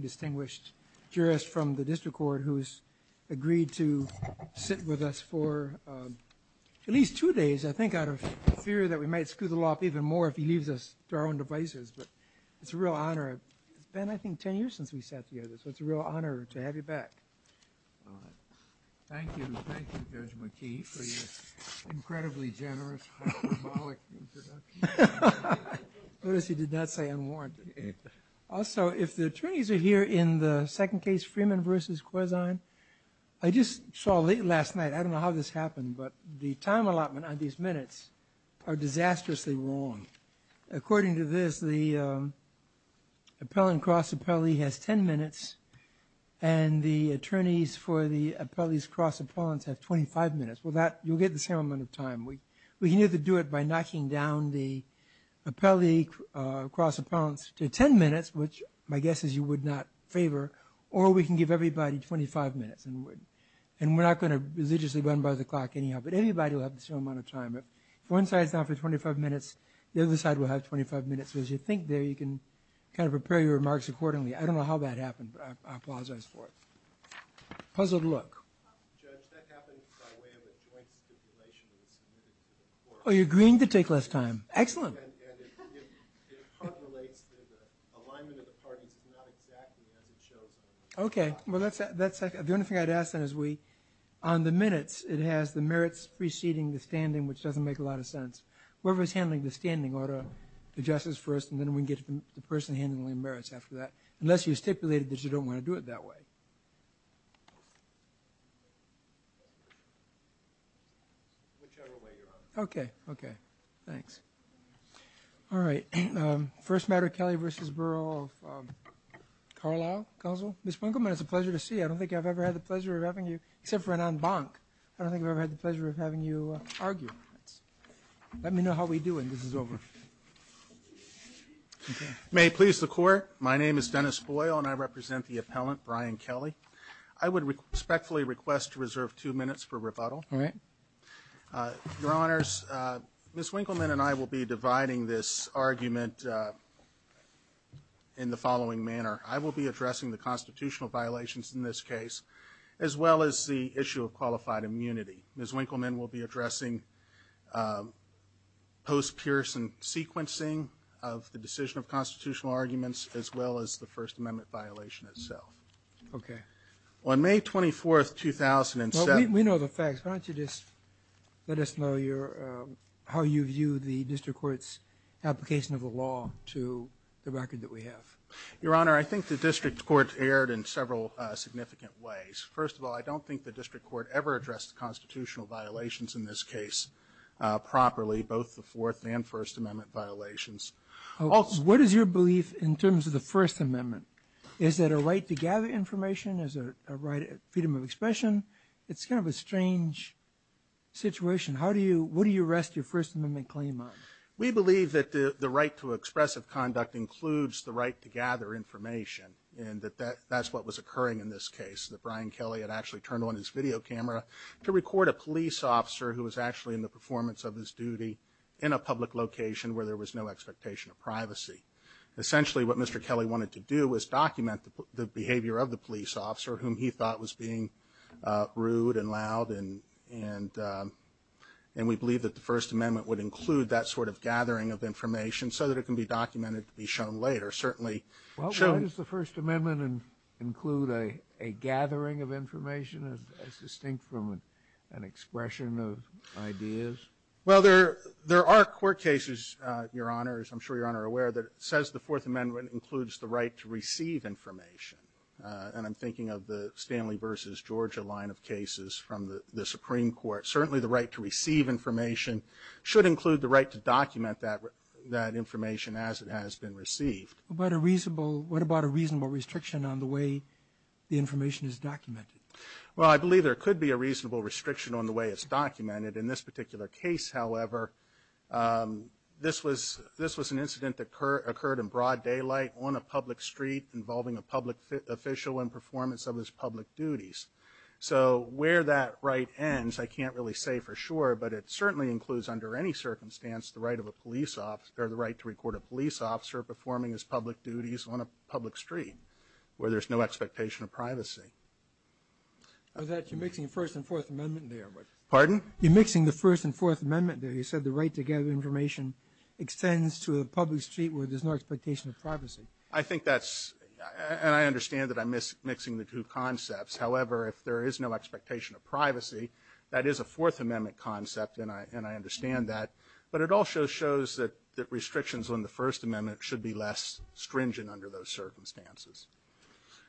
distinguished jurist from the District Court who has agreed to sit with us for at least two days, I think out of fear that we might scuttle off even more if he leaves us to our own devices, but it's a real honor. It's been I think 10 years since we sat together, so it's a real honor to have you back. Thank you, thank you Judge McKee for your incredibly generous and frivolous introduction. Also, if the attorneys are here in the second case, Freeman v. Corzine, I just saw late last night, I don't know how this happened, but the time allotment on these minutes are disastrously wrong. According to this, the appellant cross appellee has 10 minutes and the attorneys for the appellee's cross appellants have 25 minutes. You'll get the same amount of time. We can either do it by knocking down the appellee cross appellants to 10 minutes, which my guess is you would not favor, or we can give everybody 25 minutes. And we're not going to religiously run by the clock anyhow, but anybody will have the same amount of time. One side has 25 minutes, the other side will have 25 minutes, so as you think there, you can prepare your remarks accordingly. I don't know how that happened, but applause on his part. How does it look? Judge, that happens by way of a joint stipulation. Oh, you're agreeing to take less time. Excellent. It correlates to the alignment of the parties, but not exactly as it shows. Okay. The only thing I'd add to that is on the minutes, it has the merits preceding the standing, which doesn't make a lot of sense. Whoever's handling the standing ought to address this first, and then we can get to the person handling the merits after that, unless you stipulated that you don't want to do it that way. Okay. Okay. Thanks. All right. First matter, Kelly v. Burrill of Carlisle Council. Ms. Winkleman, it's a pleasure to see you. I don't think I've ever had the pleasure of having you, except for an en banc. I don't think I've ever had the pleasure of having you argue. Let me know how we do when this is over. May it please the Court? My name is Dennis Foyle, and I represent the appellant, Brian Kelly. I would respectfully request to reserve two minutes for rebuttal. All right. Your Honors, Ms. Winkleman and I will be dividing this argument in the following manner. I will be addressing the constitutional violations in this case, as well as the issue of qualified immunity. Ms. Winkleman will be addressing post-Pearson sequencing of the decision of constitutional arguments, as well as the First Amendment violation itself. Okay. On May 24, 2007... We know the facts. Why don't you just let us know how you view the district court's application of the law to the record that we have? Your Honor, I think the district court erred in several significant ways. First of all, I don't think the district court ever addressed the constitutional violations in this case properly, both the Fourth and First Amendment violations. What is your belief in terms of the First Amendment? Is it a right to gather information? Is it a right of freedom of expression? It's kind of a strange situation. What do you rest your First Amendment claim on? We believe that the right to expressive conduct includes the right to gather information, and that that's what was occurring in this case, that Brian Kelly had actually turned on his video camera to record a police officer who was actually in the performance of his duty in a public location where there was no expectation of privacy. Essentially, what Mr. Kelly wanted to do was document the behavior of the police officer, whom he thought was being rude and loud, and we believe that the First Amendment would include that sort of gathering of information so that it can be documented to be shown later. Well, why does the First Amendment include a gathering of information that's distinct from an expression of ideas? Well, there are court cases, Your Honor, as I'm sure Your Honor is aware, that says the Fourth Amendment includes the right to receive information, and I'm thinking of the Stanley v. Georgia line of cases from the Supreme Court. Certainly, the right to receive information should include the right to document that information as it has been received. What about a reasonable restriction on the way the information is documented? Well, I believe there could be a reasonable restriction on the way it's documented. In this particular case, however, this was an incident that occurred in broad daylight on a public street involving a public official in performance of his public duties. So where that right ends, I can't really say for sure, but it certainly includes under any circumstance the right to record a police officer performing his public duties on a public street where there's no expectation of privacy. You're mixing the First and Fourth Amendment there. Pardon? You're mixing the First and Fourth Amendment there. You said the right to gather information extends to a public street where there's no expectation of privacy. I think that's – and I understand that I'm mixing the two concepts. However, if there is no expectation of privacy, that is a Fourth Amendment concept, and I understand that. But it also shows that restrictions on the First Amendment should be less stringent under those circumstances.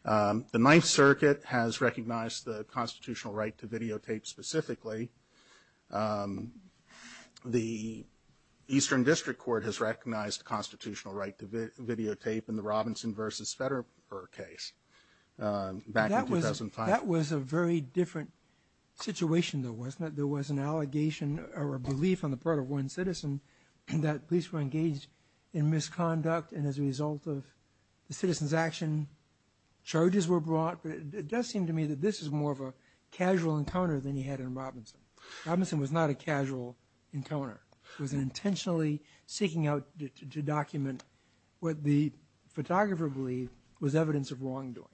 The Ninth Circuit has recognized the constitutional right to videotape specifically. The Eastern District Court has recognized the constitutional right to videotape in the Robinson v. Federer case back in 2005. That was a very different situation though, wasn't it? There was an allegation or a belief on the part of one citizen that police were engaged in misconduct, and as a result of the citizen's action, charges were brought. It does seem to me that this is more of a casual encounter than you had in Robinson. Robinson was not a casual encounter. He was intentionally seeking out to document what the photographer believed was evidence of wrongdoing.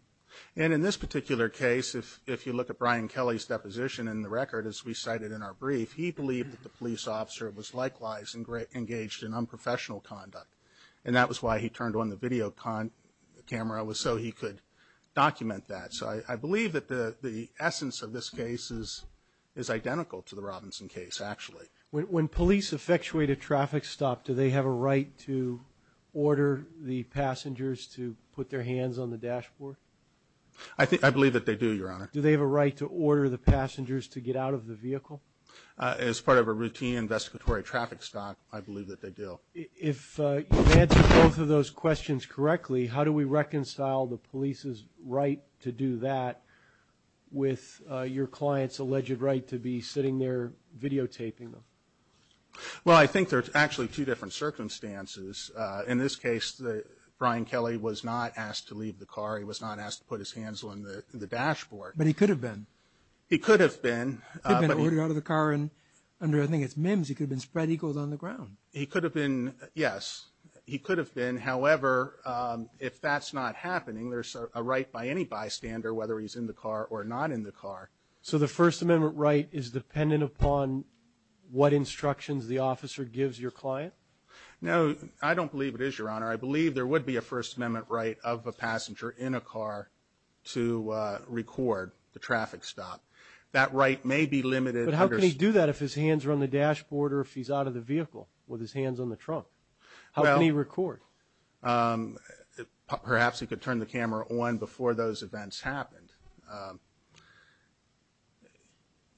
And in this particular case, if you look at Brian Kelly's deposition in the record, as we cited in our brief, he believed that the police officer was likewise engaged in unprofessional conduct, and that was why he turned on the video camera was so he could document that. So I believe that the essence of this case is identical to the Robinson case, actually. When police effectuate a traffic stop, do they have a right to order the passengers to put their hands on the dashboard? I believe that they do, Your Honor. Do they have a right to order the passengers to get out of the vehicle? As part of a routine investigatory traffic stop, I believe that they do. Well, if you answer both of those questions correctly, how do we reconcile the police's right to do that with your client's alleged right to be sitting there videotaping them? Well, I think there's actually two different circumstances. In this case, Brian Kelly was not asked to leave the car. He was not asked to put his hands on the dashboard. But he could have been. He could have been. He could have been ordering out of the car, and under, I think it's MIMS, he could have been spread eagles on the ground. He could have been, yes. He could have been. However, if that's not happening, there's a right by any bystander, whether he's in the car or not in the car. So the First Amendment right is dependent upon what instructions the officer gives your client? No, I don't believe it is, Your Honor. I believe there would be a First Amendment right of a passenger in a car to record the traffic stop. That right may be limited. But how can he do that if his hands are on the dashboard or if he's out of the vehicle with his hands on the trunk? How can he record? Perhaps he could turn the camera on before those events happened.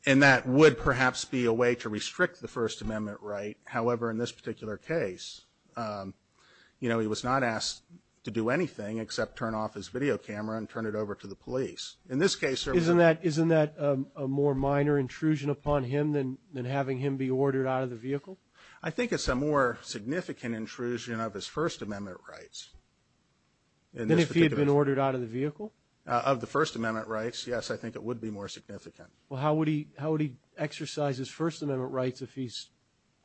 And that would perhaps be a way to restrict the First Amendment right. However, in this particular case, you know, he was not asked to do anything except turn off his video camera and turn it over to the police. Isn't that a more minor intrusion upon him than having him be ordered out of the vehicle? I think it's a more significant intrusion of his First Amendment rights. And if he had been ordered out of the vehicle? Of the First Amendment rights, yes, I think it would be more significant. Well, how would he exercise his First Amendment rights if he's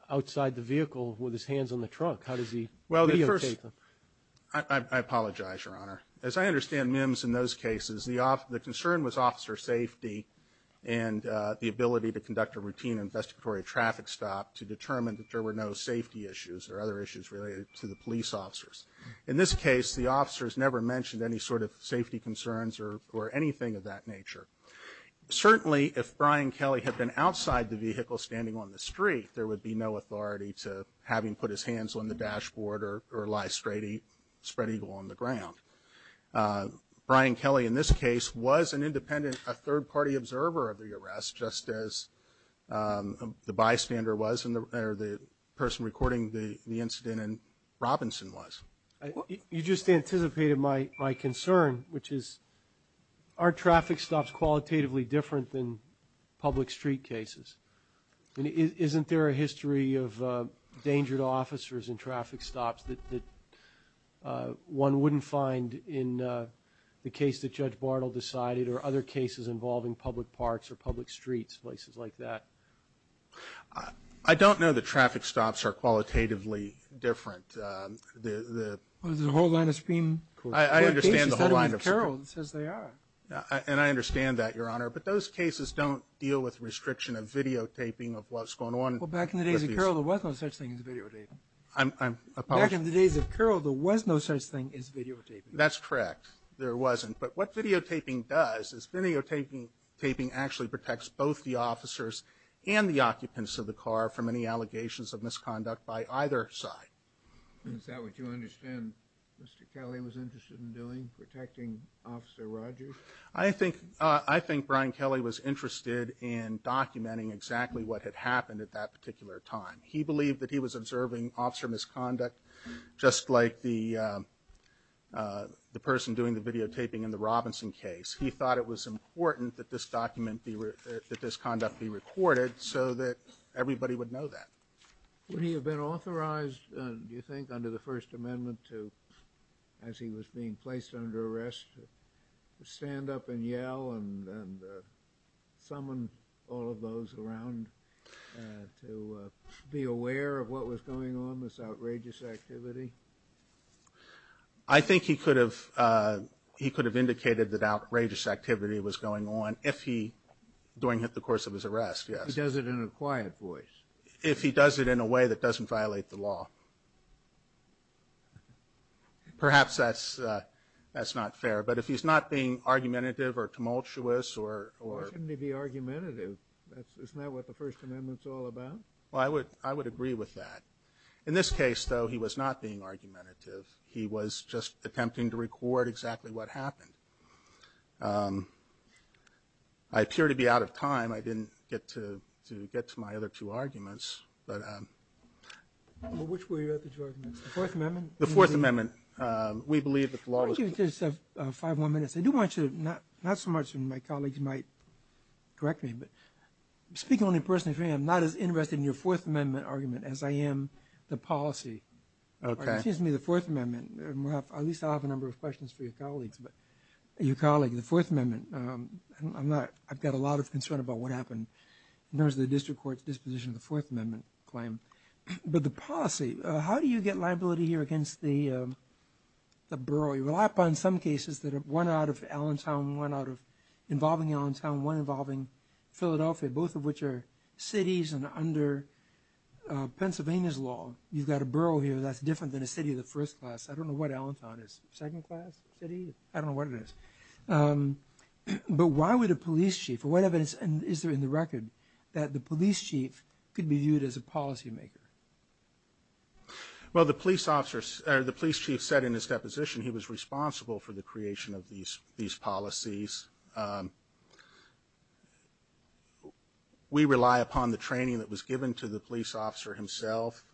outside the vehicle with his hands on the trunk? How does he videotape him? I apologize, Your Honor. As I understand, Mims, in those cases, the concern was officer safety and the ability to conduct a routine investigatory traffic stop to determine that there were no safety issues or other issues related to the police officers. In this case, the officers never mentioned any sort of safety concerns or anything of that nature. Certainly, if Brian Kelly had been outside the vehicle standing on the street, there would be no authority to have him put his hands on the dashboard or lie straight on the ground. Brian Kelly, in this case, was an independent, a third-party observer of the arrest, just as the bystander was or the person recording the incident in Robinson was. You just anticipated my concern, which is, are traffic stops qualitatively different than public street cases? Isn't there a history of danger to officers in traffic stops that one wouldn't find in the case that Judge Barnell decided or other cases involving public parks or public streets, places like that? I don't know that traffic stops are qualitatively different. There's a whole line of screen. I understand the whole line of screen. And I understand that, Your Honor. But those cases don't deal with restriction of videotaping of what's going on. Well, back in the days of Carroll, there was no such thing as videotaping. I apologize. Back in the days of Carroll, there was no such thing as videotaping. That's correct. There wasn't. But what videotaping does is videotaping actually protects both the officers and the occupants of the car from any allegations of misconduct by either side. Is that what you understand Mr. Kelly was interested in doing, protecting Officer Rogers? I think Brian Kelly was interested in documenting exactly what had happened at that particular time. He believed that he was observing officer misconduct just like the person doing the videotaping in the Robinson case. He thought it was important that this conduct be recorded so that everybody would know that. Would he have been authorized, do you think, under the First Amendment to, as he was being placed under arrest, stand up and yell and summon all of those around to be aware of what was going on, this outrageous activity? I think he could have indicated that outrageous activity was going on during the course of his arrest, yes. If he does it in a quiet voice. If he does it in a way that doesn't violate the law. Perhaps that's not fair. But if he's not being argumentative or tumultuous or... Why couldn't he be argumentative? Isn't that what the First Amendment's all about? I would agree with that. In this case, though, he was not being argumentative. He was just attempting to record exactly what happened. I appear to be out of time. I didn't get to get to my other two arguments. Which were your other two arguments? The Fourth Amendment? The Fourth Amendment. We believe that the law was... I'll give you just five more minutes. I do want you to, not so much, and my colleagues might correct me, but speak only in person if you're not as interested in your Fourth Amendment argument as I am the policy. Okay. Excuse me, the Fourth Amendment. At least I'll have a number of questions for your colleagues. Your colleague, the Fourth Amendment. I've got a lot of concern about what happened. There was the district court's disposition of the Fourth Amendment claim. But the policy, how do you get liability here against the borough? You rely upon some cases, one out of Allentown, one involving Allentown, one involving Philadelphia, both of which are cities and under Pennsylvania's law. You've got a borough here that's different than a city of the first class. I don't know what Allentown is. Second class city? I don't know what it is. But why would a police chief, what evidence is there in the record, that the police chief could be viewed as a policymaker? Well, the police chief said in his deposition he was responsible for the creation of these policies. We rely upon the training that was given to the police officer himself,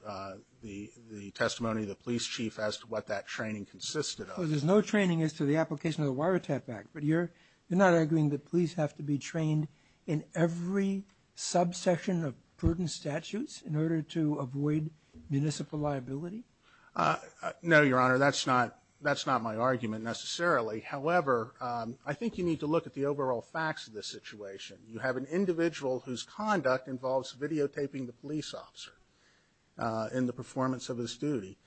the testimony of the police chief as to what that training consisted of. So there's no training as to the application of the Wiretap Act, but you're not arguing that police have to be trained in every subsection of prudent statutes in order to avoid municipal liability? No, Your Honor, that's not my argument necessarily. However, I think you need to look at the overall facts of this situation. You have an individual whose conduct involves videotaping the police officer in the performance of his duty.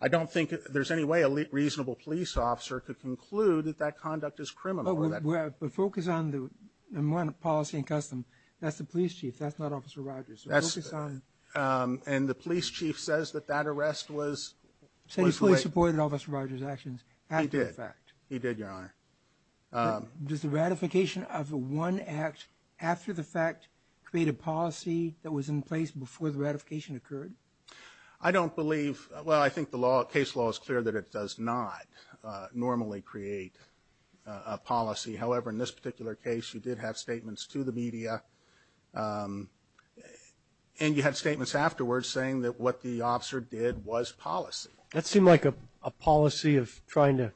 I don't think there's any way a reasonable police officer could conclude that that conduct is criminal. But focus on the policy and customs. That's the police chief. That's not Officer Rogers. And the police chief says that that arrest was legitimate. He supported Officer Rogers' actions after the fact. He did, Your Honor. Does the ratification of the one act after the fact create a policy that was in place before the ratification occurred? I don't believe. Well, I think the case law is clear that it does not normally create a policy. However, in this particular case you did have statements to the media, and you had statements afterwards saying that what the officer did was policy. That seemed like a policy of trying to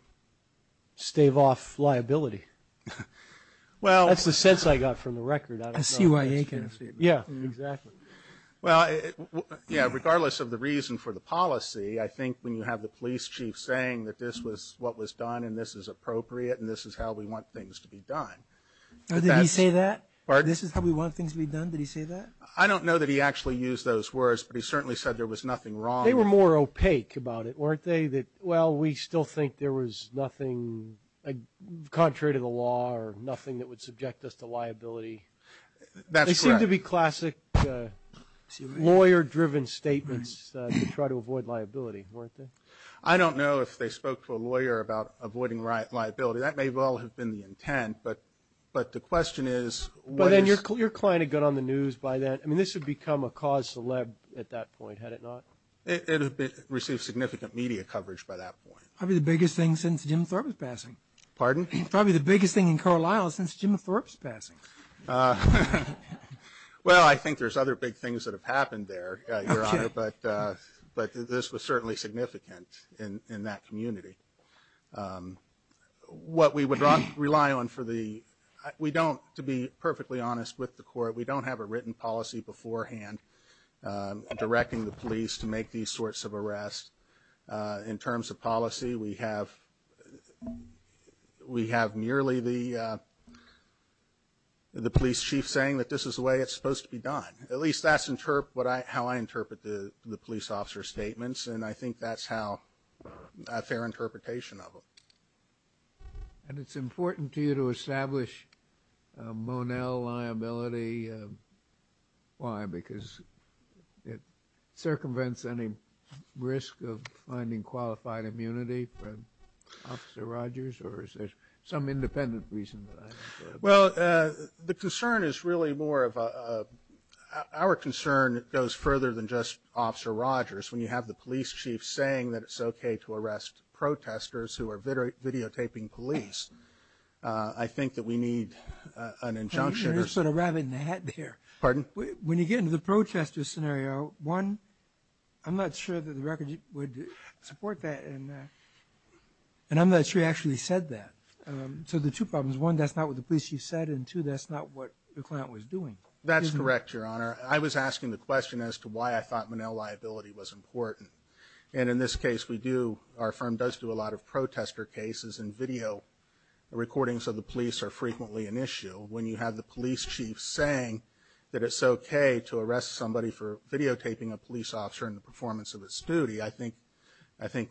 stave off liability. That's the sense I got from the record. I see where you're getting at. Yeah, exactly. Well, regardless of the reason for the policy, I think when you have the police chief saying that this was what was done and this is appropriate and this is how we want things to be done. Did he say that? Pardon? This is how we want things to be done? Did he say that? I don't know that he actually used those words, but he certainly said there was nothing wrong. They were more opaque about it, weren't they? Well, we still think there was nothing contrary to the law or nothing that would subject us to liability. They seemed to be classic lawyer-driven statements to try to avoid liability, weren't they? I don't know if they spoke to a lawyer about avoiding liability. That may well have been the intent, but the question is – But then your client had got on the news by then. I mean, this would become a cause to lead at that point, had it not. It received significant media coverage by that point. Probably the biggest thing since Jim Thorpe's passing. Pardon? Probably the biggest thing in Carlisle since Jim Thorpe's passing. Well, I think there's other big things that have happened there, but this was certainly significant in that community. What we would rely on for the – we don't, to be perfectly honest with the court, we don't have a written policy beforehand directing the police to make these sorts of arrests. In terms of policy, we have merely the police chief saying that this is the way it's supposed to be done. At least that's how I interpret the police officer's statements, and I think that's how – a fair interpretation of them. And it's important to you to establish a Monell liability. Why? Because it circumvents any risk of finding qualified immunity for Officer Rogers, or is there some independent reason? Well, the concern is really more of a – our concern goes further than just Officer Rogers. When you have the police chief saying that it's okay to arrest protesters who are videotaping police, I think that we need an injunction or something. You're sort of wrapping the hat there. Pardon? When you get into the protester scenario, one, I'm not sure that the record would support that, and I'm not sure you actually said that. So there are two problems. One, that's not what the police chief said, and two, that's not what the client was doing. That's correct, Your Honor. I was asking the question as to why I thought Monell liability was important. And in this case, we do – our firm does do a lot of protester cases, and video recordings of the police are frequently an issue. When you have the police chief saying that it's okay to arrest somebody for videotaping a police officer and the performance of his duty, I think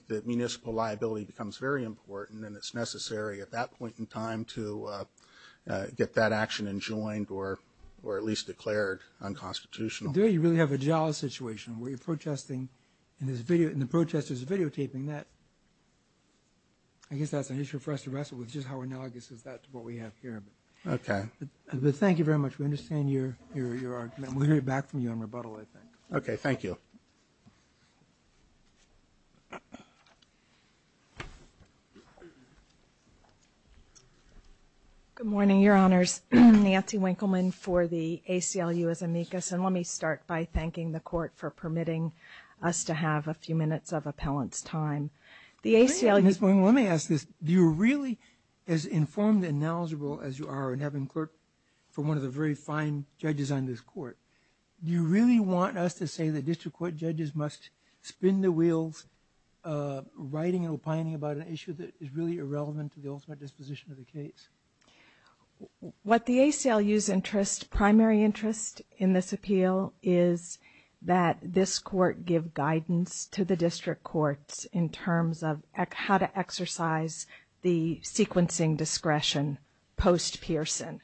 the municipal liability becomes very important and it's necessary at that point in time to get that action enjoined or at least declared unconstitutional. Do you really have a jail situation where you're protesting and the protester is videotaping that? I guess that's an issue for us to wrestle with, just how analogous is that to what we have here. Okay. But thank you very much. We understand your argument. We'll hear back from you on rebuttal, I think. Okay, thank you. Good morning, Your Honors. Nancy Winkleman for the ACLU as amicus. And let me start by thanking the court for permitting us to have a few minutes of appellant's time. Let me ask this. Do you really, as informed and knowledgeable as you are in having clerked for one of the very fine judges on this court, do you really want us to say that district court judges must spin their wheels writing or planning about an issue that is really irrelevant to the ultimate disposition of the case? What the ACLU's primary interest in this appeal is that this court give guidance to the district courts in terms of how to exercise the sequencing discretion post-Pearson.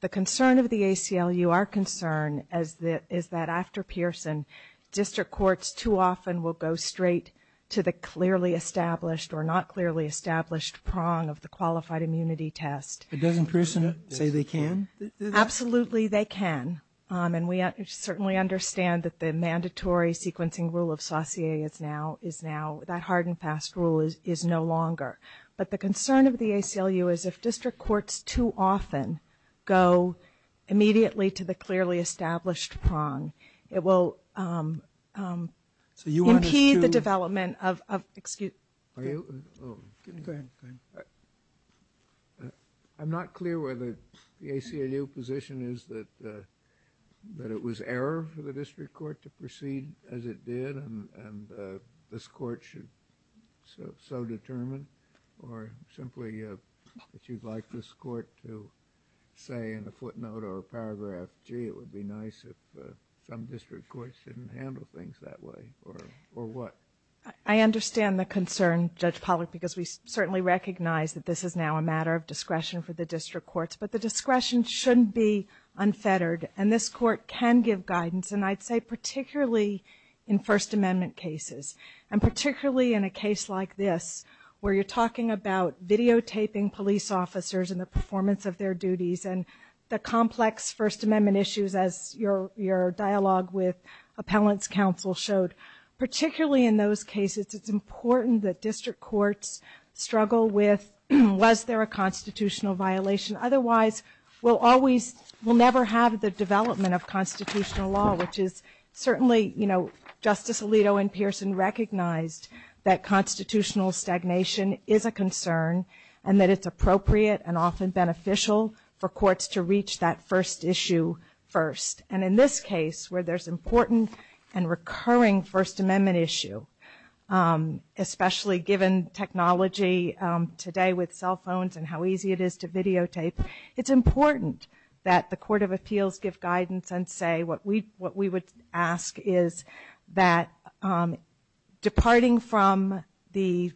The concern of the ACLU, our concern, is that after Pearson, district courts too often will go straight to the clearly established or not clearly established prong of the qualified immunity test. But doesn't Pearson say they can? Absolutely they can. And we certainly understand that the mandatory sequencing rule of Saussure is now, that hard and fast rule is no longer. But the concern of the ACLU is if district courts too often go immediately to the clearly established prong, it will impede the development of excuse. I'm not clear whether the ACLU position is that it was error for the district court to proceed as it did and this court should so determine or simply that you'd like this court to say in a footnote or a paragraph, gee, it would be nice if some district courts didn't handle things that way or what? I understand the concern, Judge Pollack, because we certainly recognize that this is now a matter of discretion for the district courts. But the discretion shouldn't be unfettered. And this court can give guidance, and I'd say particularly in First Amendment cases and particularly in a case like this where you're talking about videotaping police officers and the performance of their duties and the complex First Amendment issues as your dialogue with appellant's counsel showed. Particularly in those cases, it's important that district courts struggle with, was there a constitutional violation? Otherwise, we'll never have the development of constitutional law, which is certainly Justice Alito and Pearson recognized that constitutional stagnation is a concern and that it's appropriate and often beneficial for courts to reach that first issue first. And in this case where there's important and recurring First Amendment issue, especially given technology today with cell phones and how easy it is to videotape, it's important that the Court of Appeals give guidance and say what we would ask is that departing from the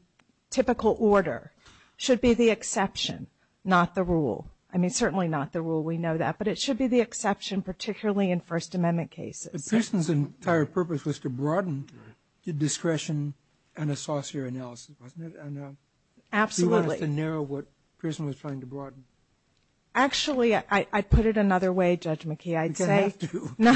typical order should be the exception, not the rule. I mean, certainly not the rule. We know that. But it should be the exception, particularly in First Amendment cases. The person's entire purpose was to broaden the discretion and associate analysis, wasn't it? Absolutely. She wanted to narrow what Pearson was trying to broaden. Actually, I put it another way, Judge McKee. You didn't have to. No.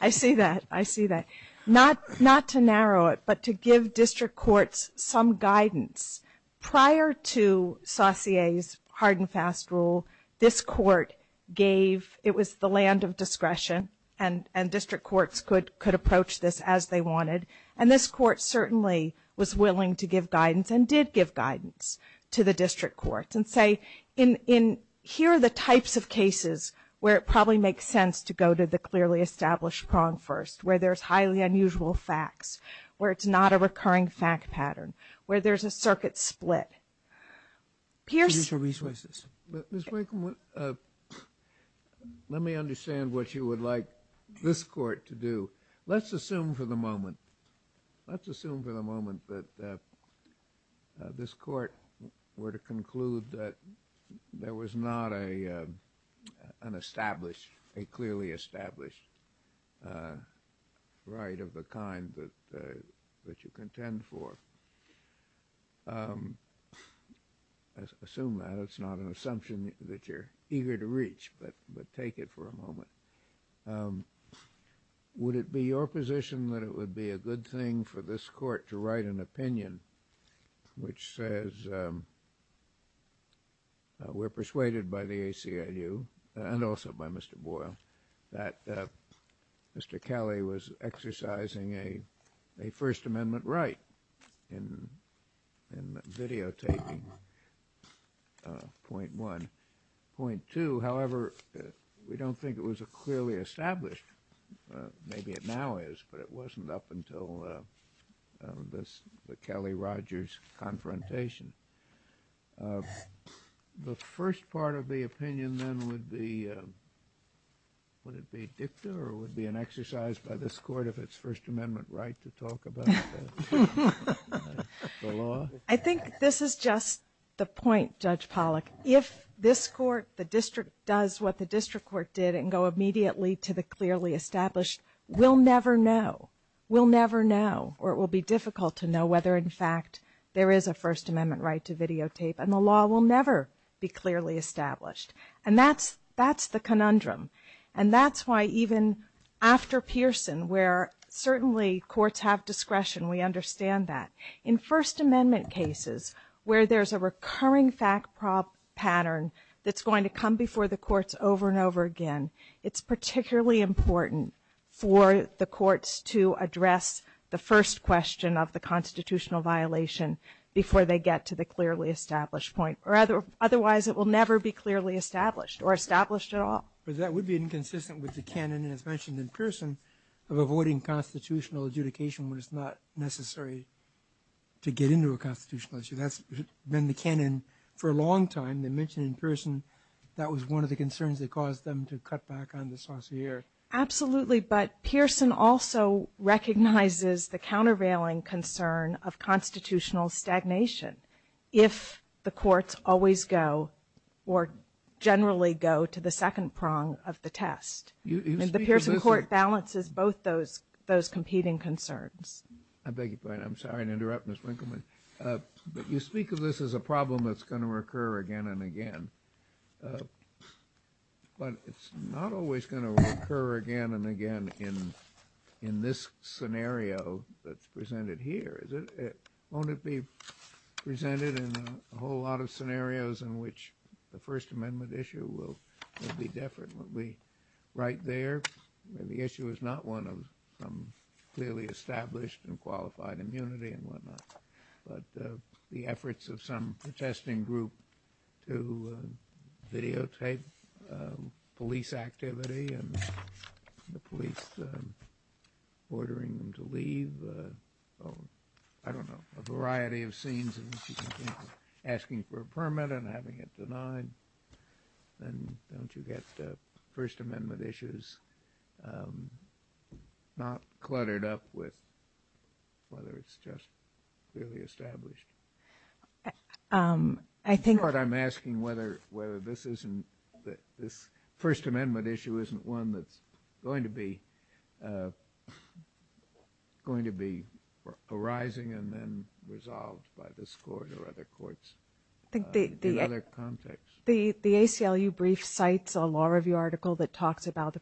I see that. I see that. Not to narrow it, but to give district courts some guidance. Prior to Saucier's hard and fast rule, this court gave, it was the land of discretion, and district courts could approach this as they wanted. And this court certainly was willing to give guidance and did give guidance to the district courts and say here are the types of cases where it probably makes sense to go to the clearly established prong first, where there's highly unusual facts, where it's not a recurring fact pattern, where there's a circuit split. Let me understand what you would like this court to do. Let's assume for the moment that this court were to conclude that there was not an established, a clearly established right of the kind that you contend for. Assume that. That's not an assumption that you're eager to reach, but take it for a moment. Would it be your position that it would be a good thing for this court to write an opinion which says we're persuaded by the ACLU and also by Mr. Boyle that Mr. Kelly was exercising a First Amendment right in videotaping point one. Point two, however, we don't think it was a clearly established. Maybe it now is, but it wasn't up until the Kelly-Rogers confrontation. The first part of the opinion then would be, would it be dicta or would it be an exercise by this court if it's First Amendment right to talk about the law? I think this is just the point, Judge Pollack. If this court, the district, does what the district court did and go immediately to the clearly established, we'll never know. We'll never know, or it will be difficult to know whether in fact there is a First Amendment right to videotape, and the law will never be clearly established. And that's the conundrum. And that's why even after Pearson, where certainly courts have discretion, we understand that. In First Amendment cases where there's a recurring fact pattern that's going to come before the courts over and over again, it's particularly important for the courts to address the first question of the constitutional violation before they get to the clearly established point. Otherwise, it will never be clearly established or established at all. But that would be inconsistent with the canon, as mentioned in Pearson, of avoiding constitutional adjudication when it's not necessary to get into a constitutional issue. That's been the canon for a long time. They mentioned in Pearson that was one of the concerns that caused them to cut back on the saussure. Absolutely, but Pearson also recognizes the countervailing concern of constitutional stagnation. If the courts always go or generally go to the second prong of the test. And the Pearson court balances both those competing concerns. I beg your pardon. I'm sorry to interrupt, Ms. Winkelman. You speak of this as a problem that's going to recur again and again. But it's not always going to recur again and again in this scenario that's presented here. Won't it be presented in a whole lot of scenarios in which the First Amendment issue will be different? Won't it be right there? The issue is not one of clearly established and qualified immunity and whatnot, but the efforts of some protesting group to videotape police activity and the police ordering them to leave. I don't know, a variety of scenes. Asking for a permit and having it denied. Don't you get First Amendment issues not cluttered up with whether it's just clearly established? I'm asking whether this First Amendment issue isn't one that's going to be arising and then resolved by this court or other courts in other contexts. The ACLU brief cites a law review article that talks about the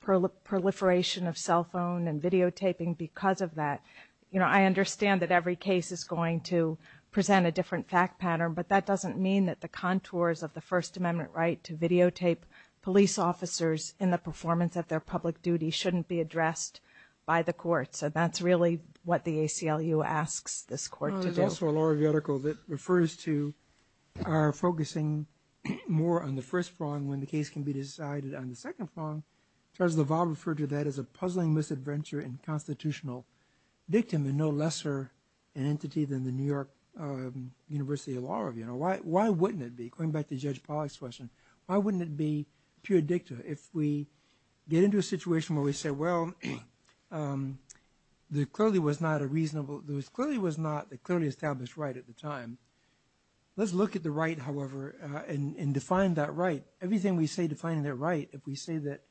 proliferation of cell phone and videotaping because of that. I understand that every case is going to present a different fact pattern, but that doesn't mean that the contours of the First Amendment right to videotape police officers in the performance of their public duty shouldn't be addressed by the courts. That's really what the ACLU asks this court to do. There's also a law review article that refers to our focusing more on the first front when the case can be decided on the second front. Judge LaValle referred to that as a puzzling misadventure and constitutional victim and no lesser entity than the New York University Law Review. Why wouldn't it be? Going back to Judge Pollack's question, why wouldn't it be pure dicta? If we get into a situation where we say, well, there clearly was not a reasonably established right at the time. Let's look at the right, however, and define that right. Everything we say defining that right, if we say that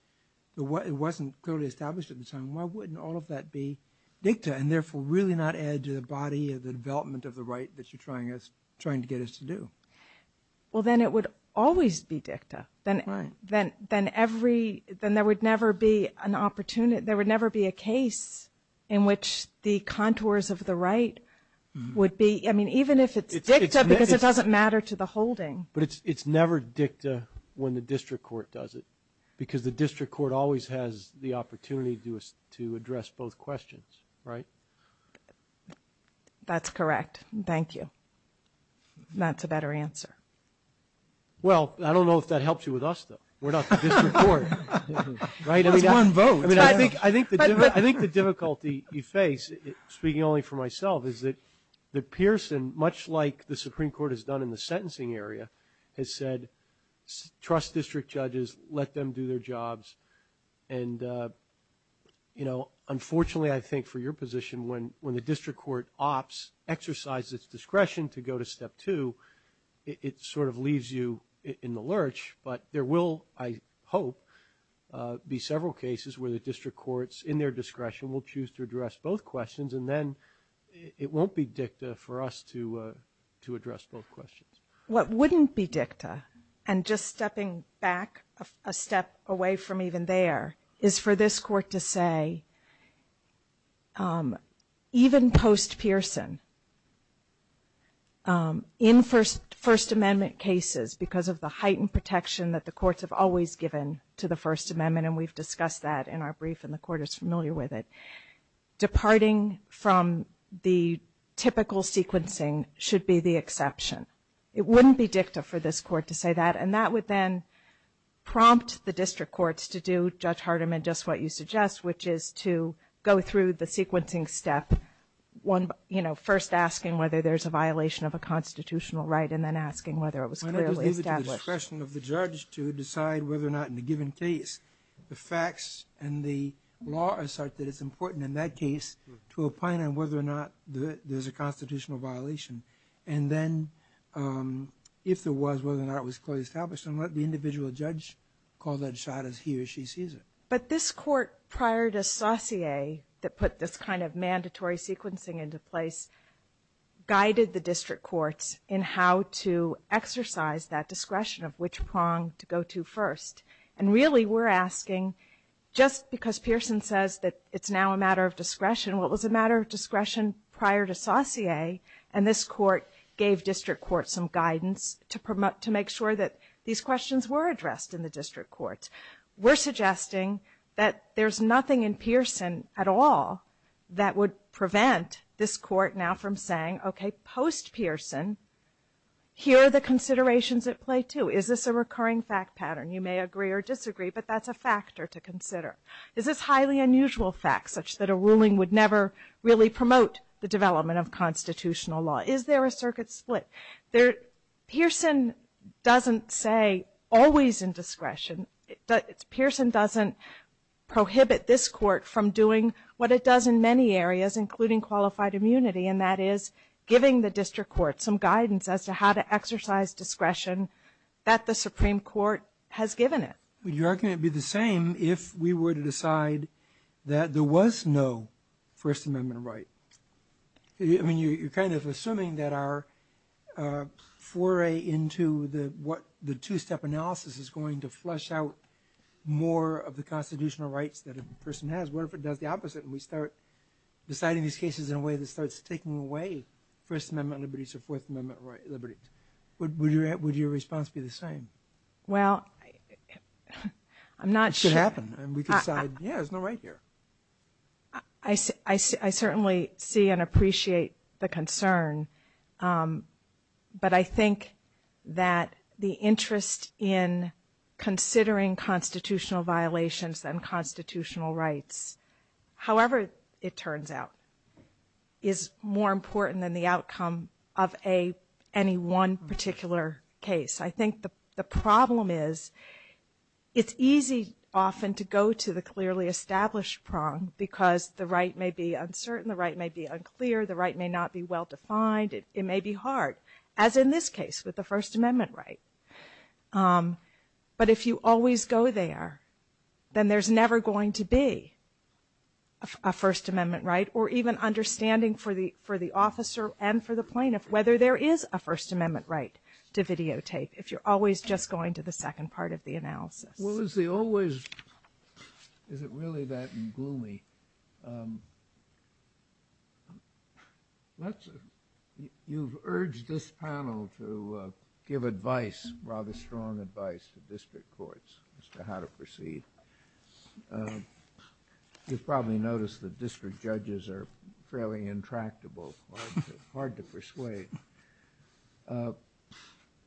it wasn't clearly established at the time, why wouldn't all of that be dicta and therefore really not add to the body of the development of the right that you're trying to get us to do? Well, then it would always be dicta. Then there would never be a case in which the contours of the right would be, I mean, even if it's dicta because it doesn't matter to the holding. But it's never dicta when the district court does it because the district court always has the opportunity to address both questions, right? That's correct. Thank you. That's a better answer. Well, I don't know if that helps you with us, though. We're not the district court. I think the difficulty you face, speaking only for myself, is that Pearson, much like the Supreme Court has done in the sentencing area, has said, trust district judges, let them do their jobs. And, you know, unfortunately, I think for your position, when the district court opts exercise its discretion to go to step two, it sort of leaves you in the lurch. But there will, I hope, be several cases where the district courts, in their discretion, will choose to address both questions, and then it won't be dicta for us to address both questions. What wouldn't be dicta, and just stepping back a step away from even there, is for this court to say, even post-Pearson, in First Amendment cases, because of the heightened protection that the courts have always given to the First Amendment, and we've discussed that in our brief, and the court is familiar with it, departing from the typical sequencing should be the exception. It wouldn't be dicta for this court to say that, and that would then prompt the district courts to do, Judge Hardiman, just what you suggest, which is to go through the sequencing step, you know, first asking whether there's a violation of a constitutional right, and then asking whether it was clearly established. It's the discretion of the judge to decide whether or not, in a given case, the facts and the law are such that it's important, in that case, to opine on whether or not there's a constitutional violation, and then, if there was, whether or not it was clearly established, and let the individual judge call that shot as he or she sees it. But this court, prior to Saussure, that put this kind of mandatory sequencing into place, guided the district courts in how to exercise that discretion of which prong to go to first. And, really, we're asking, just because Pearson says that it's now a matter of discretion, well, it was a matter of discretion prior to Saussure, and this court gave district courts some guidance to make sure that these questions were addressed in the district courts. We're suggesting that there's nothing in Pearson at all that would prevent this court now from saying, okay, post-Pearson, here are the considerations at play, too. Is this a recurring fact pattern? You may agree or disagree, but that's a factor to consider. Is this highly unusual fact, such that a ruling would never really promote the development of constitutional law? Is there a circuit split? Pearson doesn't say always in discretion. Pearson doesn't prohibit this court from doing what it does in many areas, including qualified immunity, and that is giving the district courts some guidance as to how to exercise discretion that the Supreme Court has given it. Would you reckon it would be the same if we were to decide that there was no First Amendment right? I mean, you're kind of assuming that our foray into the two-step analysis is going to flush out more of the constitutional rights that a person has. What if it does the opposite and we start deciding these cases in a way that starts taking away First Amendment liberties or Fourth Amendment liberties? Would your response be the same? Well, I'm not sure. It should happen. We could decide, yeah, there's no right here. I certainly see and appreciate the concern, but I think that the interest in considering constitutional violations and constitutional rights, however it turns out, is more important than the outcome of any one particular case. I think the problem is it's easy often to go to the clearly established prong because the right may be uncertain, the right may be unclear, the right may not be well-defined. It may be hard, as in this case with the First Amendment right. But if you always go there, then there's never going to be a First Amendment right or even understanding for the officer and for the plaintiff whether there is a First Amendment right to videotape if you're always just going to the second part of the analysis. Well, is it really that gloomy? You've urged this panel to give advice, rather strong advice, to district courts as to how to proceed. You've probably noticed that district judges are fairly intractable, hard to persuade.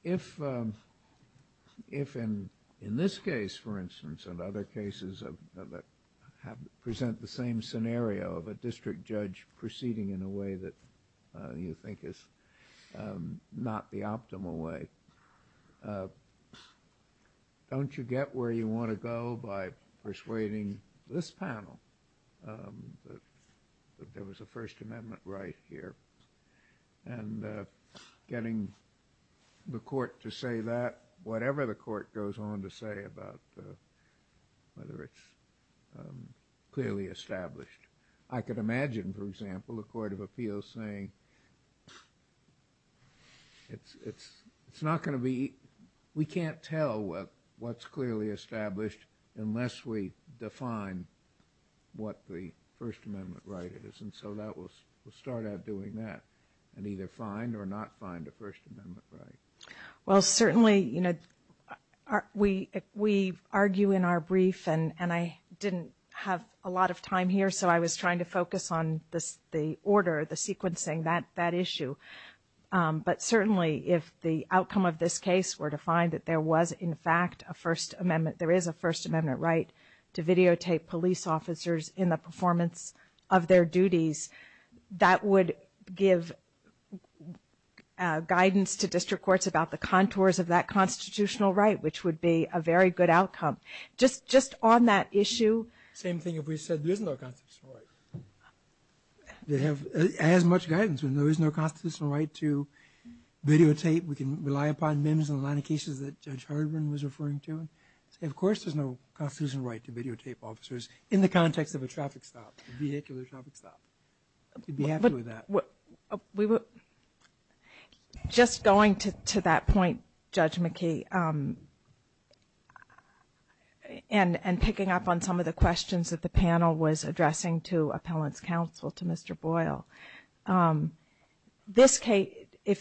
If in this case, for instance, and other cases that present the same scenario, the district judge proceeding in a way that you think is not the optimal way, don't you get where you want to go by persuading this panel that there was a First Amendment right here and getting the court to say that, whatever the court goes on to say about whether it's clearly established. I could imagine, for example, a court of appeals saying, we can't tell what's clearly established unless we define what the First Amendment right is. And so we'll start out doing that and either find or not find a First Amendment right. Well, certainly, we argue in our brief, and I didn't have a lot of time here, so I was trying to focus on the order, the sequencing, that issue. But certainly, if the outcome of this case were to find that there was, in fact, a First Amendment, there is a First Amendment right to videotape police officers in the performance of their duties, that would give guidance to district courts about the contours of that constitutional right, which would be a very good outcome. Just on that issue. Same thing if we said there's no constitutional right. It has much guidance, and there is no constitutional right to videotape. We can rely upon MIMS in a lot of cases that Judge Hardiman was referring to. And of course, there's no constitutional right to videotape officers in the context of a traffic stop, a vehicular traffic stop. We'd be happy with that. Just going to that point, Judge McKee, and picking up on some of the questions that the panel was addressing to Appellant's Counsel, to Mr. Boyle,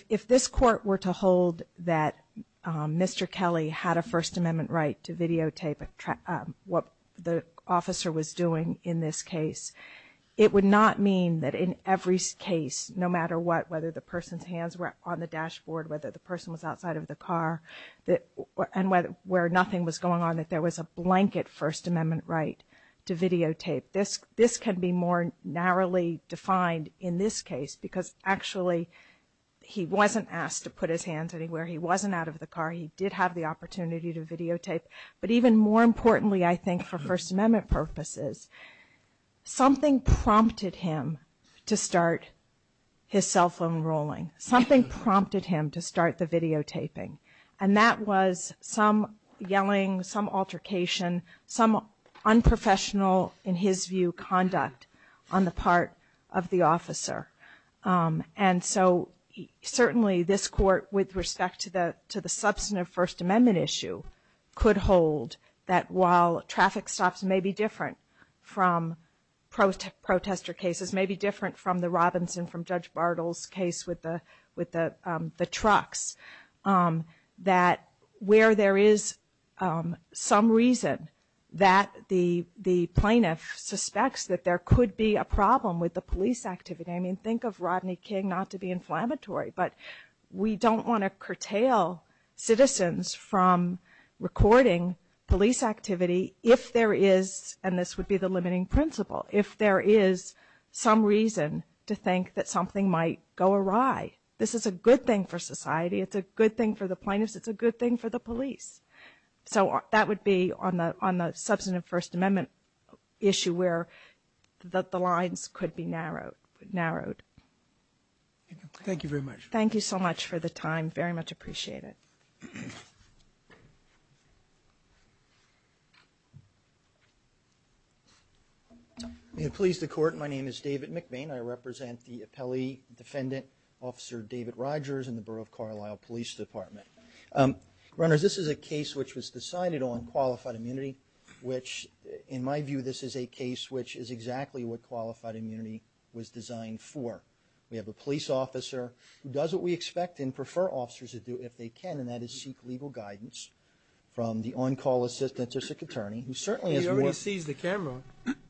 if this court were to hold that Mr. Kelly had a First Amendment right to videotape what the officer was doing in this case, it would not mean that in every case, no matter what, whether the person's hands were on the dashboard, whether the person was outside of the car, and where nothing was going on, that there was a blanket First Amendment right to videotape. This can be more narrowly defined in this case, because actually he wasn't asked to put his hands anywhere. He wasn't out of the car. He did have the opportunity to videotape. But even more importantly, I think, for First Amendment purposes, something prompted him to start his cell phone rolling. Something prompted him to start the videotaping, and that was some yelling, some altercation, some unprofessional, in his view, conduct on the part of the officer. And so certainly this court, with respect to the substantive First Amendment issue, could hold that while traffic stops may be different from protester cases, may be different from the Robinson, from Judge Bartle's case with the trucks, that where there is some reason that the plaintiff suspects that there could be a problem with the police activity, I mean, think of Rodney King, not to be inflammatory, but we don't want to curtail citizens from recording police activity if there is, and this would be the limiting principle, if there is some reason to think that something might go awry. This is a good thing for society. It's a good thing for the plaintiffs. It's a good thing for the police. So that would be on the substantive First Amendment issue where the lines could be narrowed. Thank you very much. Thank you so much for the time. Very much appreciate it. The employees of the court, my name is David McMain. I represent the appellee defendant, Officer David Rogers, in the Borough of Carlisle Police Department. Runners, this is a case which was decided on qualified immunity, which, in my view, this is a case which is exactly what qualified immunity was designed for. We have a police officer who does what we expect and prefer officers to do if they can, and that is seek legal guidance from the on-call assistant to a sick attorney, who certainly has reached... He almost seized the camera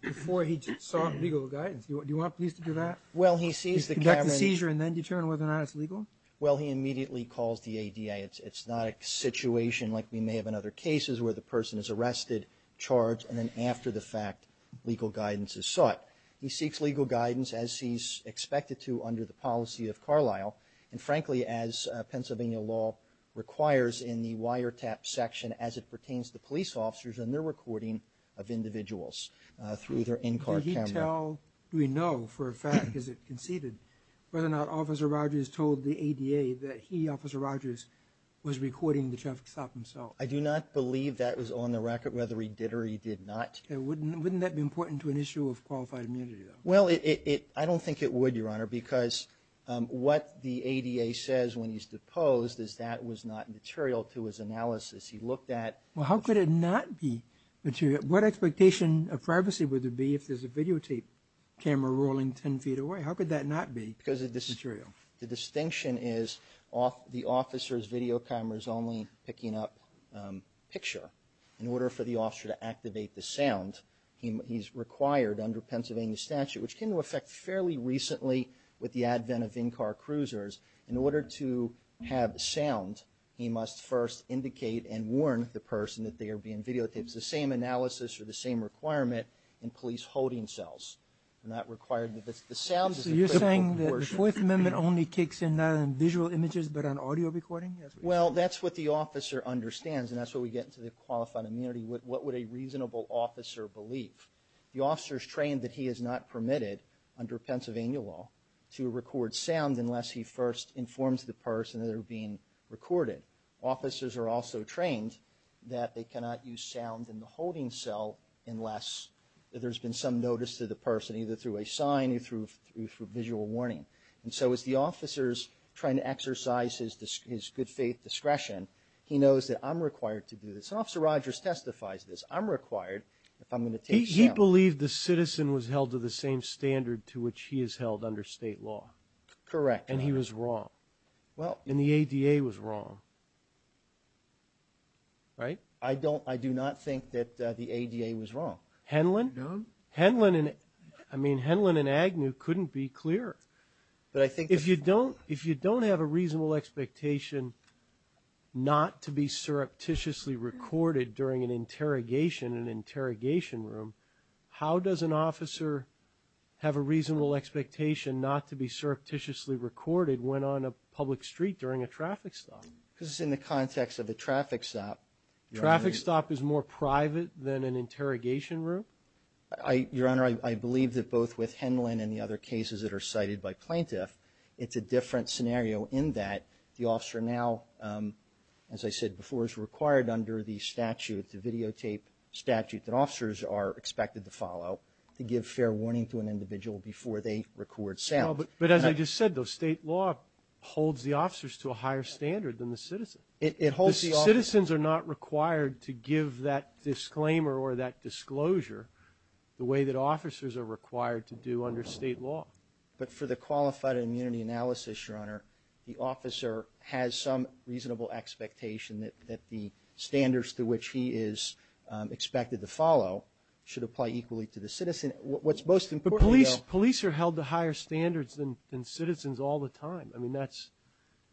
before he sought legal guidance. Do you want police to do that? Well, he seized the camera... Conduct a seizure and then determine whether or not it's legal? Well, he immediately calls the ADA. It's not a situation like we may have in other cases where the person is arrested, charged, and then after the fact legal guidance is sought. He seeks legal guidance as he's expected to under the policy of Carlisle, and frankly as Pennsylvania law requires in the wiretap section as it pertains to police officers and their recording of individuals through their in-court camera. Until we know for a fact, as it conceded, whether or not Officer Rogers told the ADA that he, Officer Rogers, was recording the traffic stop himself. I do not believe that was on the record, whether he did or he did not. Wouldn't that be important to an issue of qualified immunity, though? Well, I don't think it would, Your Honor, because what the ADA says when he's deposed is that was not material to his analysis. He looked at... Well, how could it not be material? What expectation of privacy would it be if there's a videotape camera rolling 10 feet away? How could that not be material? The distinction is the officer's videocamera is only picking up picture. In order for the officer to activate the sound, he's required under Pennsylvania statute, which came into effect fairly recently with the advent of in-car cruisers, in order to have sound, he must first indicate and warn the person that they are being videotaped. It's the same analysis or the same requirement in police holding cells. They're not required... You're saying that the Fourth Amendment only kicks in on visual images but on audio recording? Well, that's what the officer understands, and that's where we get to the qualified immunity. What would a reasonable officer believe? The officer is trained that he is not permitted under Pennsylvania law to record sound unless he first informs the person that they're being recorded. Officers are also trained that they cannot use sound in the holding cell unless there's been some notice to the person, either through a sign or through visual warning. And so as the officer is trying to exercise his good faith discretion, he knows that I'm required to do this. Officer Rogers testifies this. I'm required if I'm going to take sound. He believed the citizen was held to the same standard to which he is held under state law. Correct. And he was wrong. And the ADA was wrong. Right? I do not think that the ADA was wrong. Henlon and Agnew couldn't be clearer. If you don't have a reasonable expectation not to be surreptitiously recorded during an interrogation in an interrogation room, how does an officer have a reasonable expectation not to be surreptitiously recorded when on a public street during a traffic stop? This is in the context of a traffic stop. Traffic stop is more private than an interrogation room? Your Honor, I believe that both with Henlon and the other cases that are cited by plaintiff, it's a different scenario in that the officer now, as I said before, is required under the statute, the videotape statute, that officers are expected to follow to give fair warning to an individual before they record sound. But as I just said, state law holds the officers to a higher standard than the citizens. Citizens are not required to give that disclaimer or that disclosure the way that officers are required to do under state law. But for the qualified immunity analysis, Your Honor, the officer has some reasonable expectation that the standards to which he is expected to follow should apply equally to the citizen. But police are held to higher standards than citizens all the time. I mean,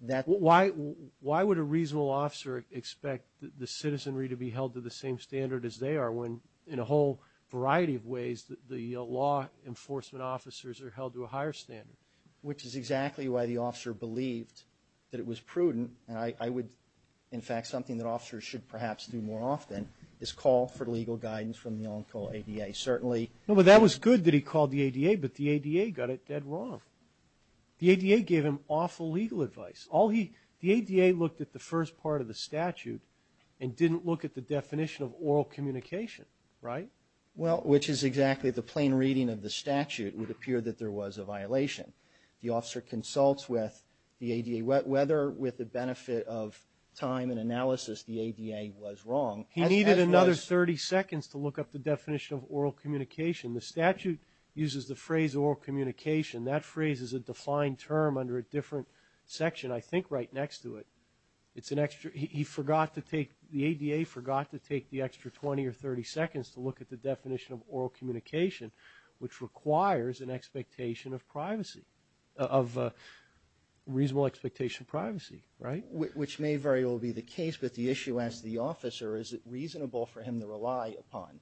why would a reasonable officer expect the citizenry to be held to the same standard as they are when in a whole variety of ways the law enforcement officers are held to a higher standard? Which is exactly why the officer believed that it was prudent, and in fact something that officers should perhaps do more often, is call for legal guidance from the on-call ADA, certainly. No, but that was good that he called the ADA, but the ADA got it dead wrong. The ADA gave him awful legal advice. The ADA looked at the first part of the statute and didn't look at the definition of oral communication, right? Well, which is exactly the plain reading of the statute. It would appear that there was a violation. The officer consults with the ADA, whether with the benefit of time and analysis, the ADA was wrong. He needed another 30 seconds to look up the definition of oral communication. The statute uses the phrase oral communication. That phrase is a defined term under a different section, I think, right next to it. It's an extra – he forgot to take – the ADA forgot to take the extra 20 or 30 seconds to look at the definition of oral communication, which requires an expectation of privacy, of reasonable expectation of privacy, right? Which may very well be the case, but the issue as the officer, is it reasonable for him to rely upon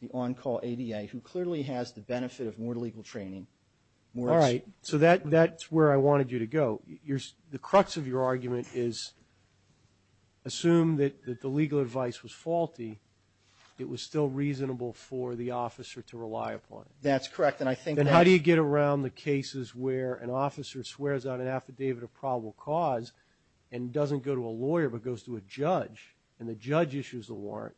the on-call ADA, who clearly has the benefit of more legal training, more – All right, so that's where I wanted you to go. The crux of your argument is assume that the legal advice was faulty. It was still reasonable for the officer to rely upon. That's correct, and I think – Then how do you get around the cases where an officer swears on an affidavit of probable cause and doesn't go to a lawyer but goes to a judge, and the judge issues a warrant,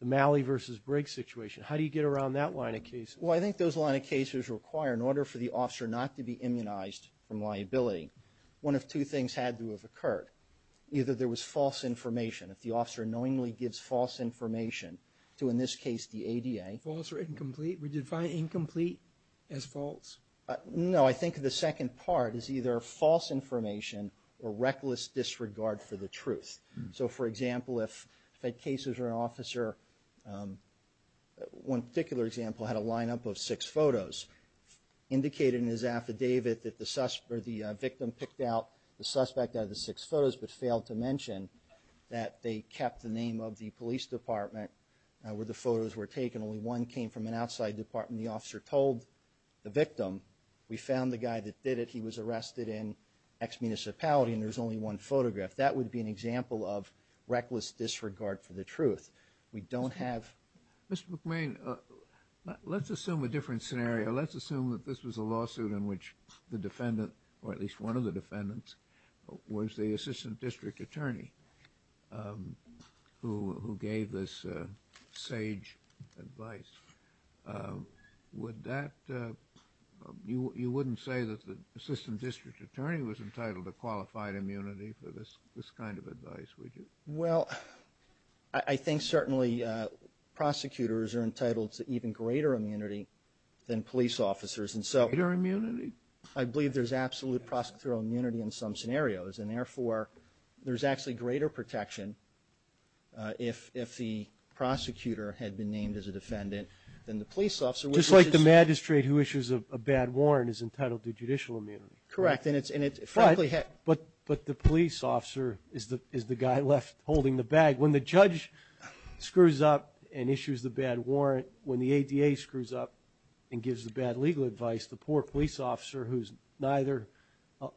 the Malley v. Briggs situation. How do you get around that line of cases? Well, I think those line of cases require, in order for the officer not to be immunized from liability, one of two things had to have occurred. Either there was false information. If the officer knowingly gives false information to, in this case, the ADA – False or incomplete? Would you define incomplete as false? No, I think the second part is either false information or reckless disregard for the truth. So, for example, if a case where an officer – one particular example had a lineup of six photos indicating in his affidavit that the victim picked out the suspect out of the six photos but failed to mention that they kept the name of the police department where the photos were taken and only one came from an outside department, the officer told the victim, we found the guy that did it, he was arrested in X municipality and there's only one photograph. That would be an example of reckless disregard for the truth. We don't have – Mr. McMahon, let's assume a different scenario. Let's assume that this was a lawsuit in which the defendant, or at least one of the defendants, was the assistant district attorney who gave this sage advice. Would that – you wouldn't say that the assistant district attorney was entitled to qualified immunity for this kind of advice, would you? Well, I think certainly prosecutors are entitled to even greater immunity than police officers. Greater immunity? I believe there's absolute prosecutorial immunity in some scenarios and therefore there's actually greater protection if the prosecutor had been named as a defendant than the police officer. Just like the magistrate who issues a bad warrant is entitled to judicial immunity. Correct. But the police officer is the guy left holding the bag. When the judge screws up and issues the bad warrant, when the ADA screws up and gives the bad legal advice, the poor police officer who's neither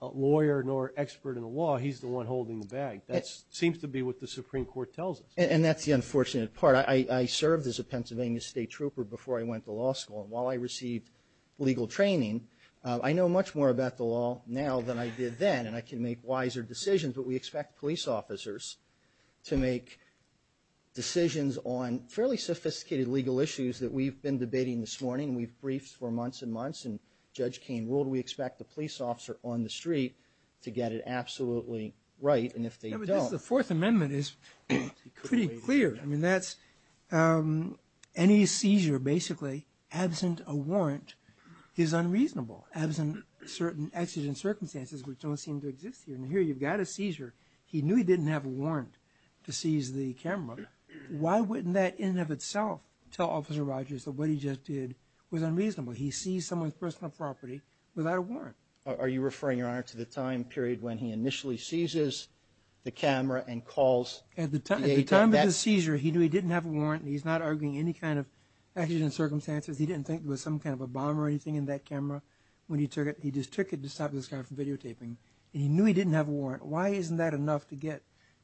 a lawyer nor an expert in the law, he's the one holding the bag. That seems to be what the Supreme Court tells us. And that's the unfortunate part. I served as a Pennsylvania State Trooper before I went to law school. While I received legal training, I know much more about the law now than I did then and I can make wiser decisions, but we expect police officers to make decisions on fairly sophisticated legal issues that we've been debating this morning. We've briefed for months and months and the judge came, will we expect the police officer on the street to get it absolutely right? And if they don't... The Fourth Amendment is pretty clear. Any seizure basically, absent a warrant, is unreasonable. Absent certain actions and circumstances which don't seem to exist here. And here you've got a seizure. He knew he didn't have a warrant to seize the camera. Why wouldn't that in and of itself tell Officer Rogers that what he just did was unreasonable? He seized someone's personal property without a warrant. Are you referring, Your Honor, to the time period when he initially seizes the camera and calls... At the time of the seizure, he knew he didn't have a warrant. He's not arguing any kind of actions and circumstances. He didn't think there was some kind of a bomb or anything in that camera when he took it. He just took it to stop the camera from videotaping. He knew he didn't have a warrant. Why isn't that enough to get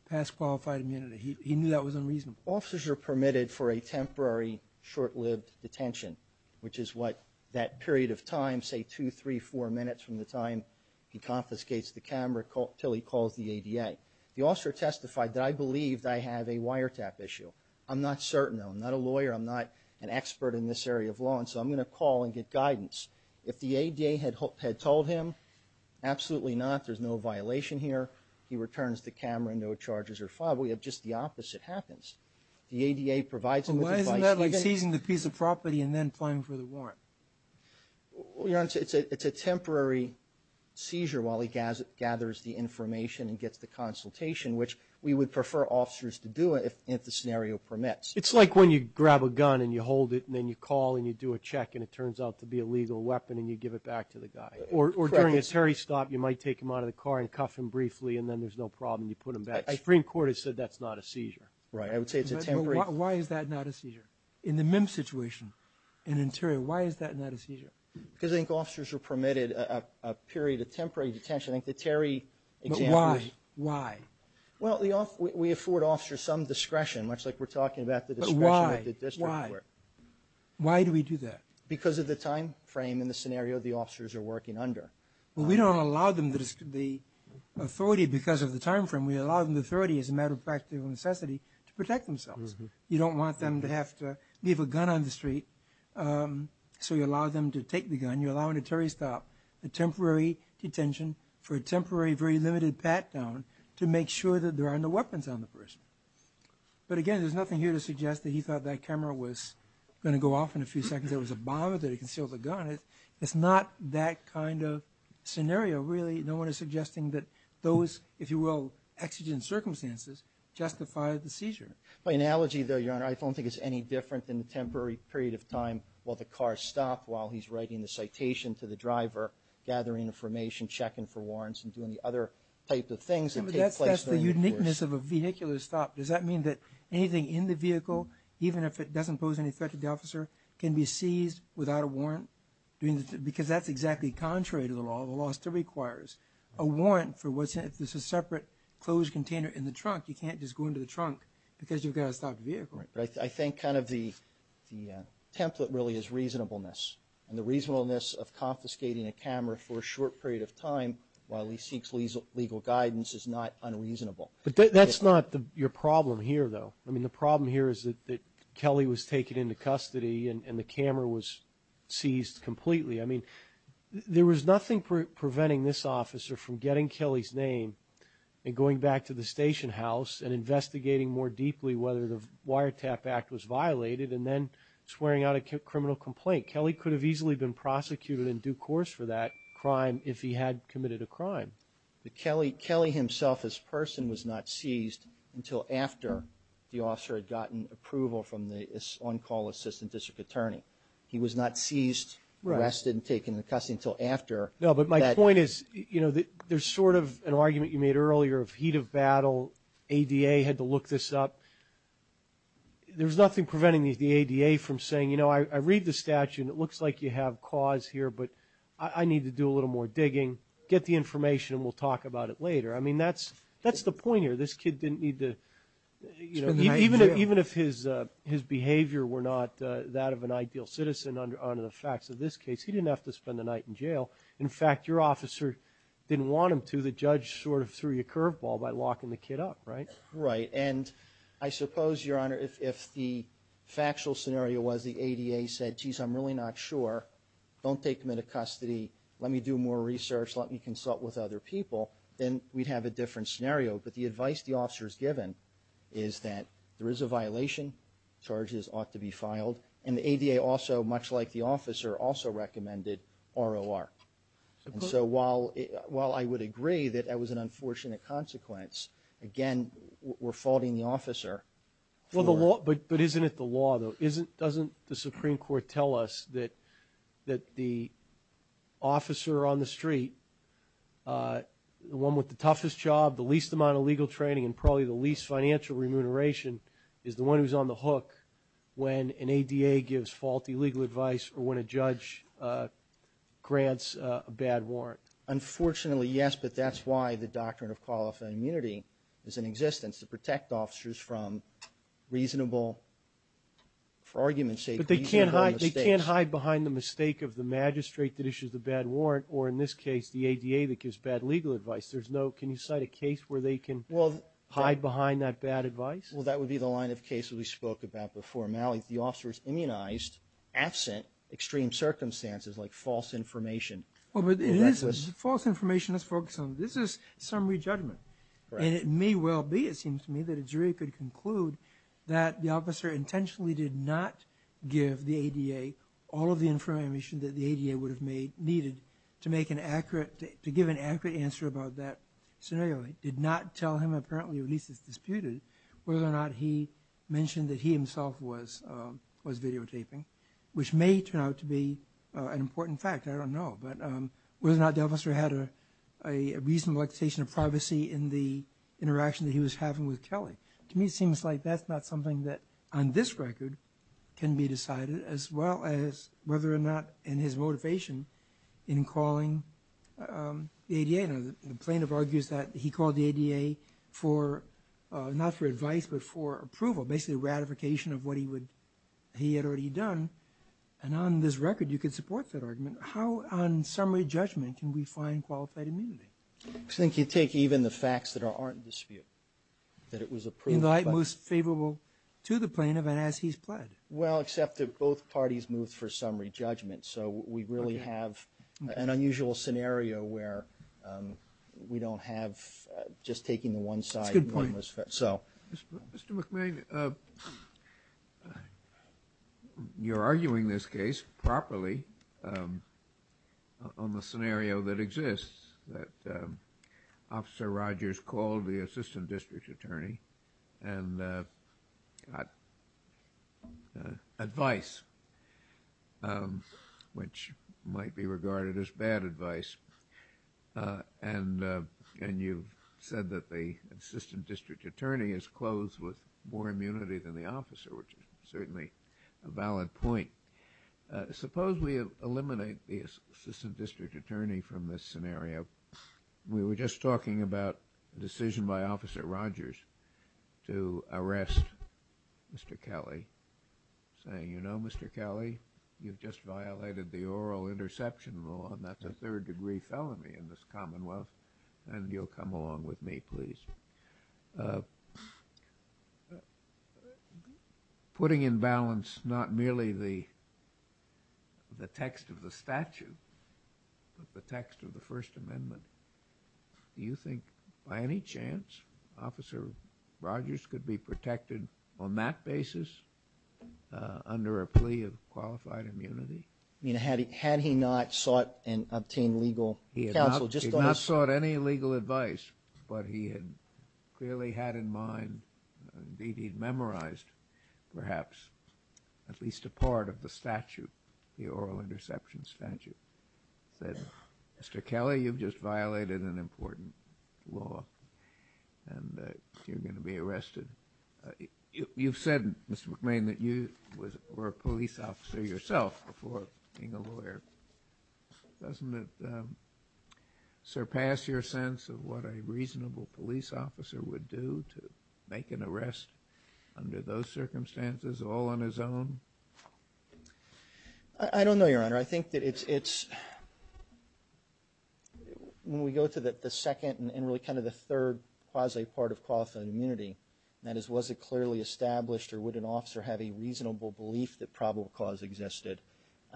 past qualified immunity? He knew that was unreasonable. Officers are permitted for a temporary short-lived detention, which is what that period of time, say two, three, four minutes from the time he confiscates the camera, until he calls the ADA. The officer testified that, I believe I have a wiretap issue. I'm not certain, though. I'm not a lawyer. I'm not an expert in this area of law, and so I'm going to call and get guidance. If the ADA had told him, absolutely not. There's no violation here. He returns the camera and no charges are filed. Instead, we have just the opposite happens. The ADA provides him with the body. Why isn't that like seizing the piece of property and then filing for the warrant? It's a temporary seizure while he gathers the information and gets the consultation, which we would prefer officers to do if the scenario permits. It's like when you grab a gun and you hold it and then you call and you do a check and it turns out to be a legal weapon and you give it back to the guy. Or during a Terry stop, you might take him out of the car and cuff him briefly, and then there's no problem. You put him back. A Supreme Court has said that's not a seizure. I would say it's a temporary. Why is that not a seizure? In the MIMS situation in Ontario, why is that not a seizure? Because I think officers are permitted a period of temporary detention. I think the Terry example is... Why? Why? Well, we afford officers some discretion, much like we're talking about the discretion with the district court. But why? Why? Why do we do that? Because of the time frame and the scenario the officers are working under. Well, we don't allow them the authority because of the time frame. We allow them the authority as a matter of fact of necessity to protect themselves. You don't want them to have to leave a gun on the street. So you allow them to take the gun. You allow in a Terry stop a temporary detention for a temporary very limited pat-down to make sure that there are no weapons on the person. But again, there's nothing here to suggest that he thought that camera was going to go off in a few seconds. There was a bomb with it. It concealed the gun. It's not that kind of scenario, really. No one is suggesting that those, if you will, exigent circumstances justify the seizure. By analogy, though, Your Honor, I don't think it's any different in the temporary period of time while the car stopped, while he's writing the citation to the driver, gathering information, checking for warrants, and doing the other type of things that take place... But that's just the uniqueness of a vehicular stop. Does that mean that anything in the vehicle, even if it doesn't pose any threat to the officer, can be seized without a warrant? Because that's exactly contrary to the law. The law still requires a warrant for what's in it. It's a separate closed container in the trunk. You can't just go into the trunk because you've got to stop the vehicle. I think kind of the template really is reasonableness. And the reasonableness of confiscating a camera for a short period of time while he seeks legal guidance is not unreasonable. That's not your problem here, though. I mean, the problem here is that Kelly was taken into custody and the camera was seized completely. I mean, there was nothing preventing this officer from getting Kelly's name and going back to the station house and investigating more deeply whether the wiretap act was violated and then swearing out a criminal complaint. Kelly could have easily been prosecuted in due course for that crime if he had committed a crime. Kelly himself as a person was not seized until after the officer had gotten approval from the on-call assistant district attorney. He was not seized, arrested, and taken into custody until after. No, but my point is there's sort of an argument you made earlier of heat of battle. ADA had to look this up. There's nothing preventing the ADA from saying, you know, I read the statute and it looks like you have cause here, but I need to do a little more digging. Get the information and we'll talk about it later. I mean, that's the point here. This kid didn't need to spend the night in jail. Even if his behavior were not that of an ideal citizen under the facts of this case, he didn't have to spend the night in jail. In fact, your officer didn't want him to. The judge sort of threw you a curveball by locking the kid up, right? Right, and I suppose, Your Honor, if the factual scenario was the ADA said, geez, I'm really not sure, don't take him into custody, let me do more research, let me consult with other people, then we'd have a different scenario. But the advice the officer is given is that there is a violation, charges ought to be filed, and the ADA also, much like the officer, also recommended ROR. And so while I would agree that that was an unfortunate consequence, again, we're faulting the officer. But isn't it the law, though? Doesn't the Supreme Court tell us that the officer on the street, the one with the toughest job, the least amount of legal training, and probably the least financial remuneration is the one who's on the hook when an ADA gives faulty legal advice or when a judge grants a bad warrant? Unfortunately, yes, but that's why the Doctrine of Qualified Immunity is in existence, to protect officers from reasonable arguments. But they can't hide behind the mistake of the magistrate that issues the bad warrant, or in this case, the ADA that gives bad legal advice. Can you cite a case where they can hide behind that bad advice? Well, that would be the line of cases we spoke about before, Malik. The officer is immunized absent extreme circumstances like false information. False information, let's focus on, this is summary judgment. And it may well be, it seems to me, that a jury could conclude that the officer intentionally did not give the ADA all of the information that the ADA would have needed to give an accurate answer about that scenario. It did not tell him, apparently, or at least it's disputed, whether or not he mentioned that he himself was videotaping, which may turn out to be an important fact. I don't know. But whether or not the officer had a reasonable expectation of privacy in the interaction that he was having with Kelly. To me, it seems like that's not something that on this record can be decided, as well as whether or not in his motivation in calling the ADA. The plaintiff argues that he called the ADA not for advice, but for approval, basically a ratification of what he had already done. And on this record, you could support that argument. How on summary judgment can we find qualified immunity? I think you'd take even the facts that aren't in dispute. That it was approved. He lied most favorable to the plaintiff and as he's pled. Well, except that both parties moved for summary judgment. So we really have an unusual scenario where we don't have just taking one side. Good point. Mr. McMahon, you're arguing this case properly on the scenario that exists, that Officer Rogers called the assistant district attorney and got advice, which might be regarded as bad advice. And you said that the assistant district attorney is closed with more immunity than the officer, which is certainly a valid point. Suppose we eliminate the assistant district attorney from this scenario. We were just talking about a decision by Officer Rogers to arrest Mr. Kelly, saying, you know, Mr. Kelly, you've just violated the oral interception law and that's a third degree felony in this commonwealth and you'll come along with me, please. Putting in balance not merely the text of the statute, but the text of the First Amendment, do you think by any chance Officer Rogers could be protected on that basis under a plea of qualified immunity? Had he not sought and obtained legal counsel? He had not sought any legal advice, but he had clearly had in mind, indeed he'd memorized perhaps, at least a part of the statute, the oral interception statute, that Mr. Kelly, you've just violated an important law and you're going to be arrested. You've said, Mr. McLean, that you were a police officer yourself before being a lawyer. Doesn't it surpass your sense of what a reasonable police officer would do to make an arrest under those circumstances all on his own? I don't know, Your Honor. I think that it's, when we go to the second and really kind of the third quasi-part of qualified immunity, that is was it clearly established or would an officer have a reasonable belief that probable cause existed,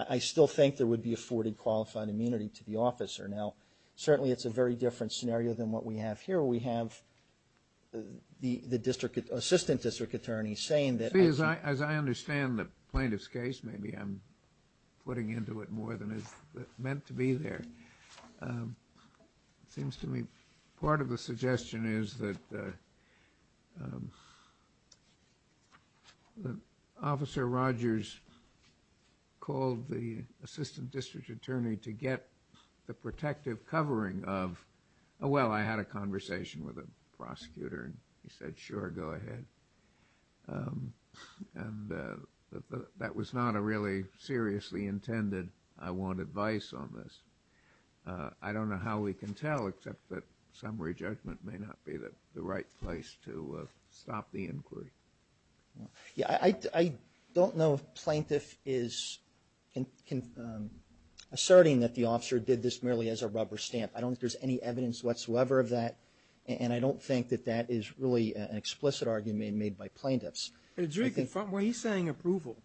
I still think there would be afforded qualified immunity to the officer. Now, certainly it's a very different scenario than what we have here. We have the Assistant District Attorney saying that… See, as I understand the plaintiff's case, maybe I'm putting into it more than it's meant to be there. It seems to me part of the suggestion is that Officer Rogers called the Assistant District Attorney to get the protective covering of, oh, well, I had a conversation with a prosecutor and he said, sure, go ahead. And that was not a really seriously intended, I want advice on this. I don't know how we can tell, except that summary judgment may not be the right place to stop the inquiry. Yeah, I don't know if plaintiff is asserting that the officer did this merely as a rubber stamp. I don't think there's any evidence whatsoever of that, and I don't think that that is really an explicit argument made by plaintiffs. Well, he's saying approval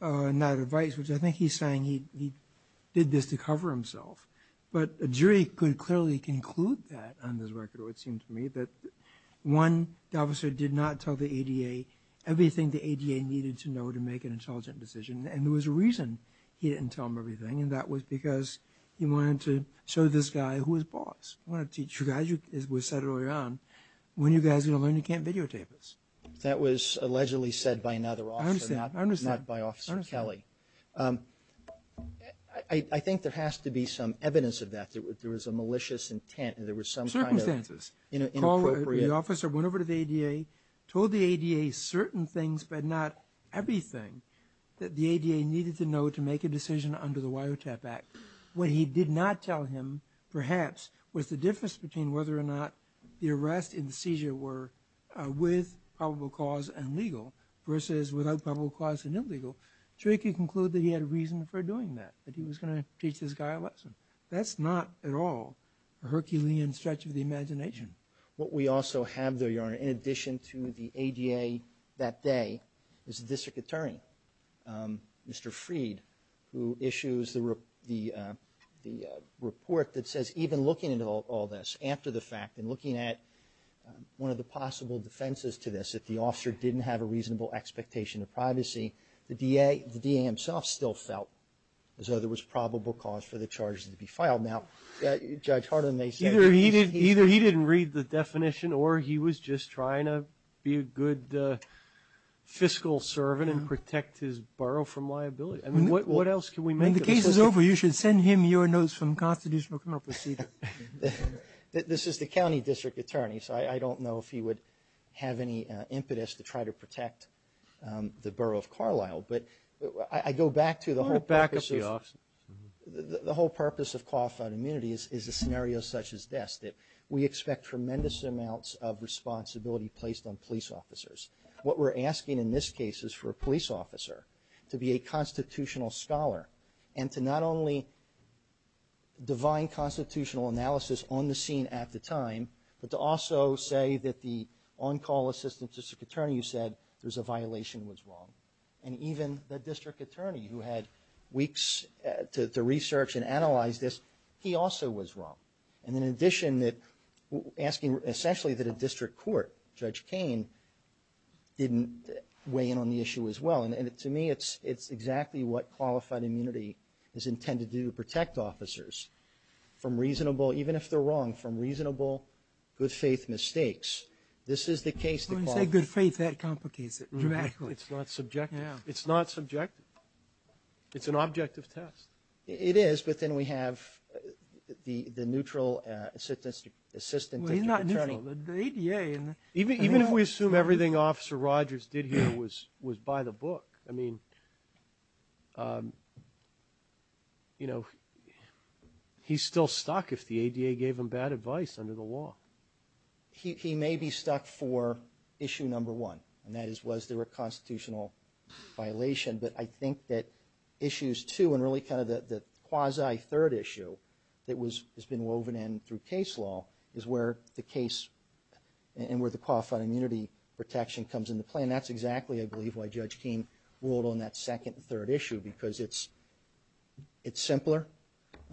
on that advice, which I think he's saying he did this to cover himself. But a jury could clearly conclude that on this record, it seems to me, that one, the officer did not tell the ADA everything the ADA needed to know to make an intelligent decision, and there was a reason he didn't tell them everything, and that was because he wanted to show this guy who was boss. I want to teach you guys, as was said earlier on, when you guys are going to learn you can't videotape this. That was allegedly said by another officer, not by Officer Kelly. I understand. I think there has to be some evidence of that, that there was a malicious intent and there was some kind of inappropriate. The officer went over to the ADA, told the ADA certain things but not everything that the ADA needed to know to make a decision under the Wiretap Act. What he did not tell him, perhaps, was the difference between whether or not the arrest and the seizure were with probable cause and legal versus without probable cause and illegal. The jury could conclude that he had a reason for doing that, that he was going to teach this guy a lesson. That's not at all a Herculean stretch of the imagination. What we also have there, Your Honor, in addition to the ADA that day, is the District Attorney, Mr. Freed, who issues the report that says, even looking at all this, after the fact, and looking at one of the possible defenses to this, if the officer didn't have a reasonable expectation of privacy, the DA himself still felt as though there was probable cause for the charges to be filed. Now, Judge Harlan, they said… Either he didn't read the definition or he was just trying to be a good fiscal servant and protect his borough from liability. I mean, what else can we make of this? When the case is over, you should send him your notes from Constitutional Criminal Procedure. This is the County District Attorney, so I don't know if he would have any impetus to try to protect the borough of Carlisle, but I go back to the whole purpose of… Go back to the officer. The whole purpose of qualified immunity is a scenario such as this, that we expect tremendous amounts of responsibility placed on police officers. What we're asking in this case is for a police officer to be a constitutional scholar and to not only divine constitutional analysis on the scene at the time, but to also say that the on-call assistant district attorney who said there's a violation was wrong. And even the district attorney who had weeks to research and analyze this, he also was wrong. And in addition, asking essentially that a district court, Judge Cain, didn't weigh in on the issue as well. And to me, it's exactly what qualified immunity is intended to do, to protect officers from reasonable, even if they're wrong, from reasonable good faith mistakes. This is the case… When you say good faith, that complicates it dramatically. No, it's not subjective. It's not subjective. It's an objective test. It is, but then we have the neutral assistant district attorney. Well, he's not neutral. The ADA… Even if we assume everything Officer Rogers did here was by the book, I mean, you know, he's still stuck if the ADA gave him bad advice under the law. He may be stuck for issue number one, and that is was there a constitutional violation. But I think that issues two and really kind of the quasi-third issue that has been woven in through case law is where the case and where the qualified immunity protection comes into play. And that's exactly, I believe, why Judge Cain ruled on that second and third issue because it's simpler.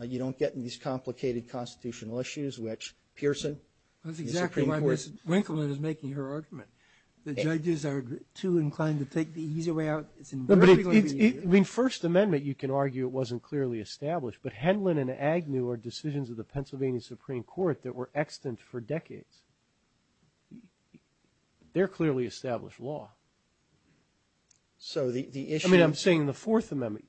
You don't get in these complicated constitutional issues, which Pearson… That's exactly why Ms. Winkleman is making her argument. The judges are too inclined to take the easy way out. I mean, First Amendment, you can argue it wasn't clearly established, but Henlon and Agnew are decisions of the Pennsylvania Supreme Court that were extant for decades. They're clearly established law. So the issue is… I mean, I'm saying the Fourth Amendment.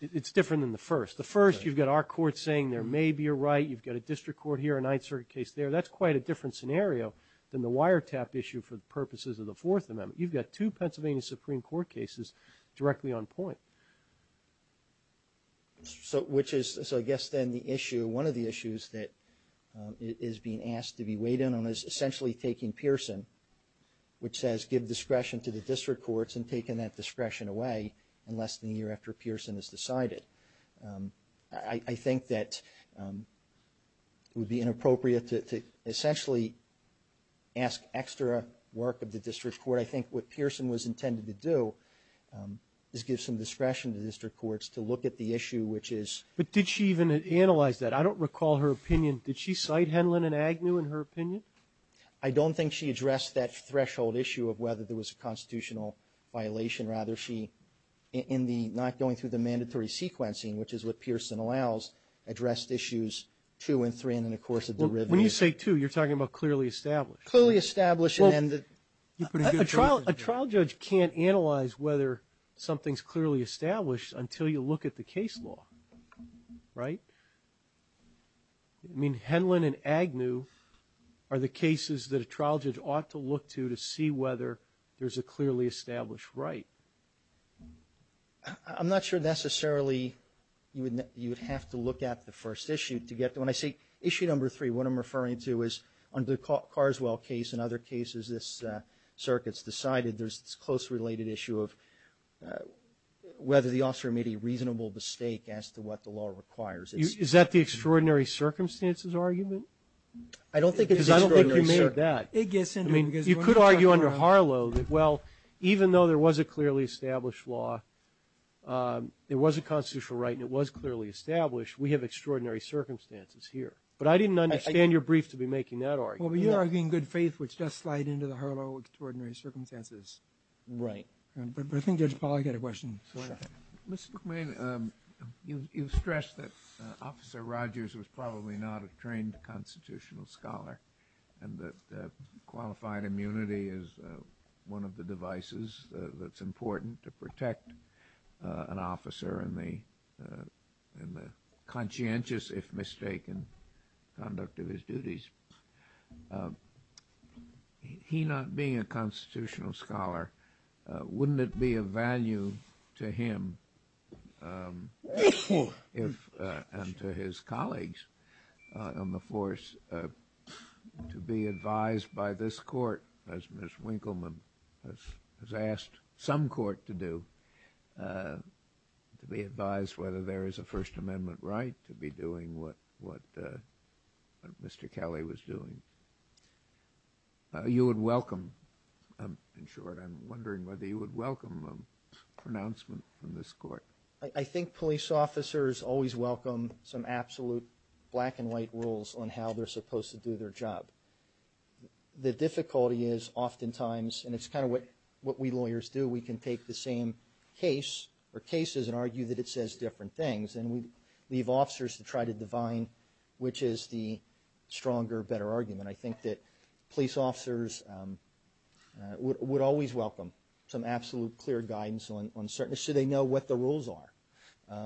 It's different than the First. The First, you've got our court saying there may be a right. You've got a district court here, a Ninth Circuit case there. That's quite a different scenario than the wiretap issue for the purposes of the Fourth Amendment. You've got two Pennsylvania Supreme Court cases directly on point. So I guess then the issue, one of the issues that is being asked to be weighed in on is essentially taking Pearson, which says give discretion to the district courts and taking that discretion away unless the year after Pearson is decided. I think that it would be inappropriate to essentially ask extra work of the district court. I think what Pearson was intended to do is give some discretion to the district courts to look at the issue, which is… But did she even analyze that? I don't recall her opinion. Did she cite Henlon and Agnew in her opinion? I don't think she addressed that threshold issue of whether there was a constitutional violation. Rather, she, not going through the mandatory sequencing, which is what Pearson allows, addressed issues two and three in the course of the review. When you say two, you're talking about clearly established. Clearly established and… A trial judge can't analyze whether something's clearly established until you look at the case law, right? I mean, Henlon and Agnew are the cases that a trial judge ought to look to to see whether there's a clearly established right. I'm not sure necessarily you would have to look at the first issue. When I say issue number three, what I'm referring to is under the Carswell case and other cases this circuit's decided, there's this closely related issue of whether the officer made a reasonable mistake as to what the law requires. Is that the extraordinary circumstances argument? I don't think it's extraordinary circumstances. I'm not sure of that. I mean, you could argue under Harlow that, well, even though there was a clearly established law, there was a constitutional right and it was clearly established, we have extraordinary circumstances here. But I didn't understand your brief to be making that argument. Well, you're arguing good faith, which does slide into the Harlow extraordinary circumstances. Right. Paul, I've got a question. Mr. McMahon, you stressed that Officer Rogers was probably not a trained constitutional scholar and that qualified immunity is one of the devices that's important to protect an officer in the conscientious, if mistaken, conduct of his duties. He not being a constitutional scholar, wouldn't it be of value to him and to his colleagues on the force to be advised by this court, as Ms. Winkelmann has asked some court to do, to be advised whether there is a First Amendment right to be doing what Mr. Kelly was doing? You would welcome, in short, I'm wondering whether you would welcome some pronouncement from this court. I think police officers always welcome some absolute black and white rules on how they're supposed to do their job. The difficulty is oftentimes, and it's kind of what we lawyers do, we can take the same case or cases and argue that it says different things and leave officers to try to divine which is the stronger, better argument. I think that police officers would always welcome some absolute clear guidance on certain... so they know what the rules are.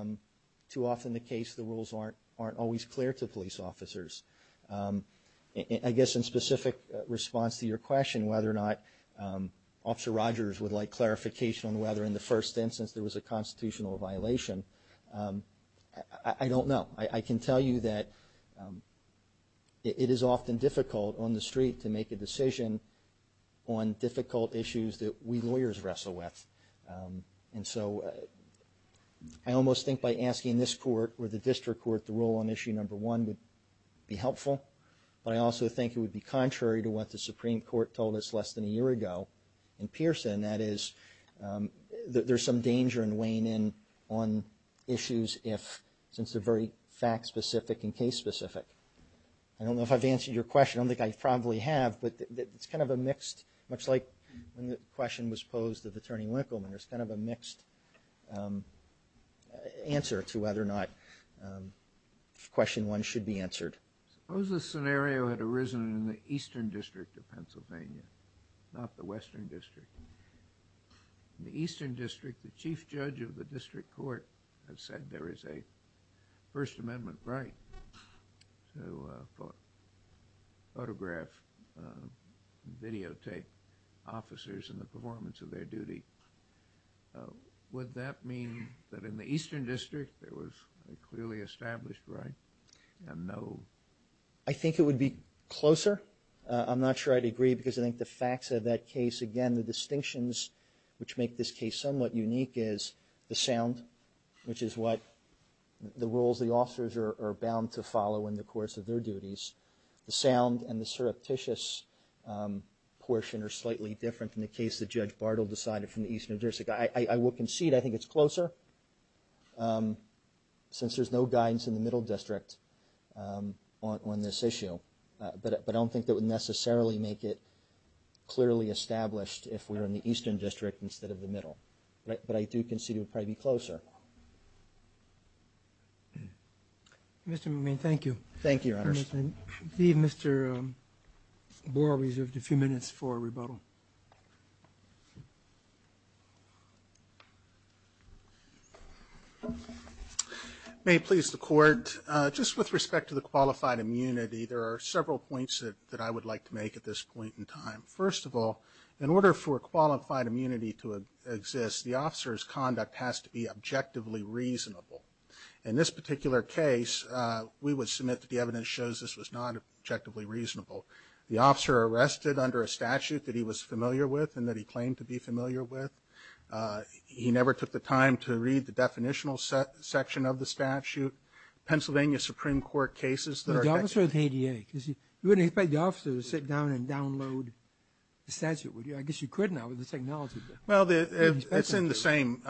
Too often the case, the rules aren't always clear to police officers. I guess in specific response to your question whether or not Officer Rogers would like clarification on whether in the first instance there was a constitutional violation, I don't know. I can tell you that it is often difficult on the street to make a decision on difficult issues that we lawyers wrestle with. And so I almost think by asking this court or the district court the rule on issue number one would be helpful, but I also think it would be contrary to what the Supreme Court told us less than a year ago in Pearson, that is, there's some danger in weighing in on issues if it's a very fact-specific and case-specific. I don't know if I've answered your question. I don't think I probably have, but it's kind of a mixed... much like when the question was posed of Attorney Winkelman, there's kind of a mixed answer to whether or not question one should be answered. Suppose a scenario had arisen in the Eastern District of Pennsylvania, not the Western District. In the Eastern District, the chief judge of the district court has said there is a First Amendment right to photograph, videotape officers and the performance of their duty. Would that mean that in the Eastern District there was a clearly established right and no... I think it would be closer. I'm not sure I'd agree because I think the facts of that case, again, the distinctions which make this case somewhat unique is the sound, which is what the rules the officers are bound to follow in the course of their duties. The sound and the surreptitious portion are slightly different from the case that Judge Bartle decided from the Eastern District. I would concede I think it's closer since there's no guidance in the Middle District on this issue, but I don't think that would necessarily make it clearly established if we're in the Eastern District instead of the Middle. But I do concede it would probably be closer. Mr. McMain, thank you. Thank you, Ernest. I'm going to leave Mr. Boer reserved a few minutes for rebuttal. May it please the court, just with respect to the qualified immunity, there are several points that I would like to make at this point in time. First of all, in order for qualified immunity to exist, the officer's conduct has to be objectively reasonable. In this particular case, we would submit that the evidence shows this was not objectively reasonable. The officer arrested under a statute that he was familiar with and that he claimed to be familiar with. He never took the time to read the definitional section of the statute. Pennsylvania Supreme Court cases... You wouldn't invite the officer to sit down and download the statute, would you? I guess you could now with the technology. Well, it's in the same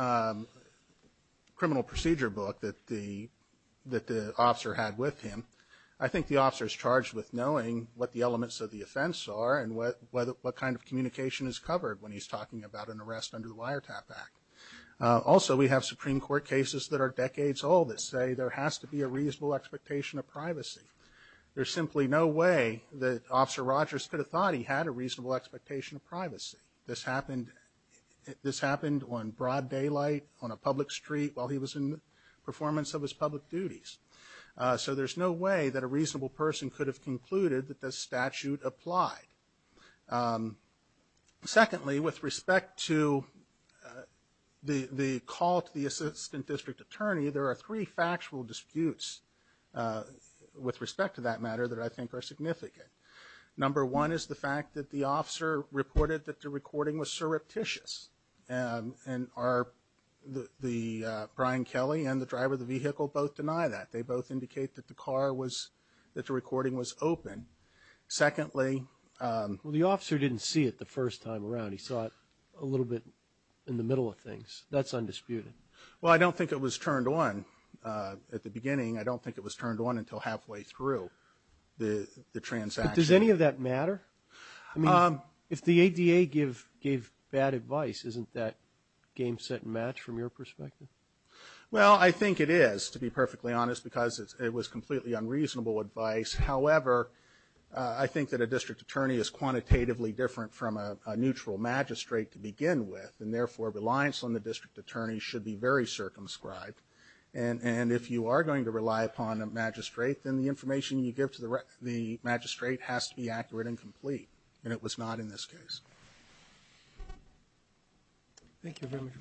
criminal procedure book that the officer had with him. I think the officer's charged with knowing what the elements of the offense are and what kind of communication is covered when he's talking about an arrest under the Wiretap Act. Also, we have Supreme Court cases that are decades old that say there has to be a reasonable expectation of privacy. There's simply no way that Officer Rogers could have thought that he had a reasonable expectation of privacy. This happened on broad daylight, on a public street, while he was in the performance of his public duties. So there's no way that a reasonable person could have concluded that this statute applied. Secondly, with respect to the call to the Assistant District Attorney, there are three factual disputes with respect to that matter that I think are significant. Number one is the fact that the officer reported that the recording was surreptitious, and Brian Kelly and the driver of the vehicle both deny that. They both indicate that the recording was open. Secondly... The officer didn't see it the first time around. He saw it a little bit in the middle of things. That's undisputed. Well, I don't think it was turned on at the beginning. I don't think it was turned on until halfway through the transaction. But does any of that matter? I mean, if the ADA gave bad advice, isn't that game set and match from your perspective? Well, I think it is, to be perfectly honest, because it was completely unreasonable advice. However, I think that a district attorney is quantitatively different from a neutral magistrate to begin with, and therefore, reliance on the district attorney should be very circumscribed. And if you are going to rely upon a magistrate, then the information you give to the magistrate has to be accurate and complete, and it was not in this case. Thank you very much.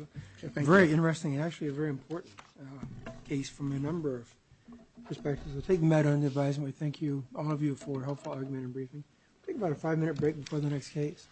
It's been very interesting, and actually a very important case from a number of perspectives. So taking that under advisement, thank you, all of you, for a helpful argument and briefing. We'll take about a five-minute break before the next case.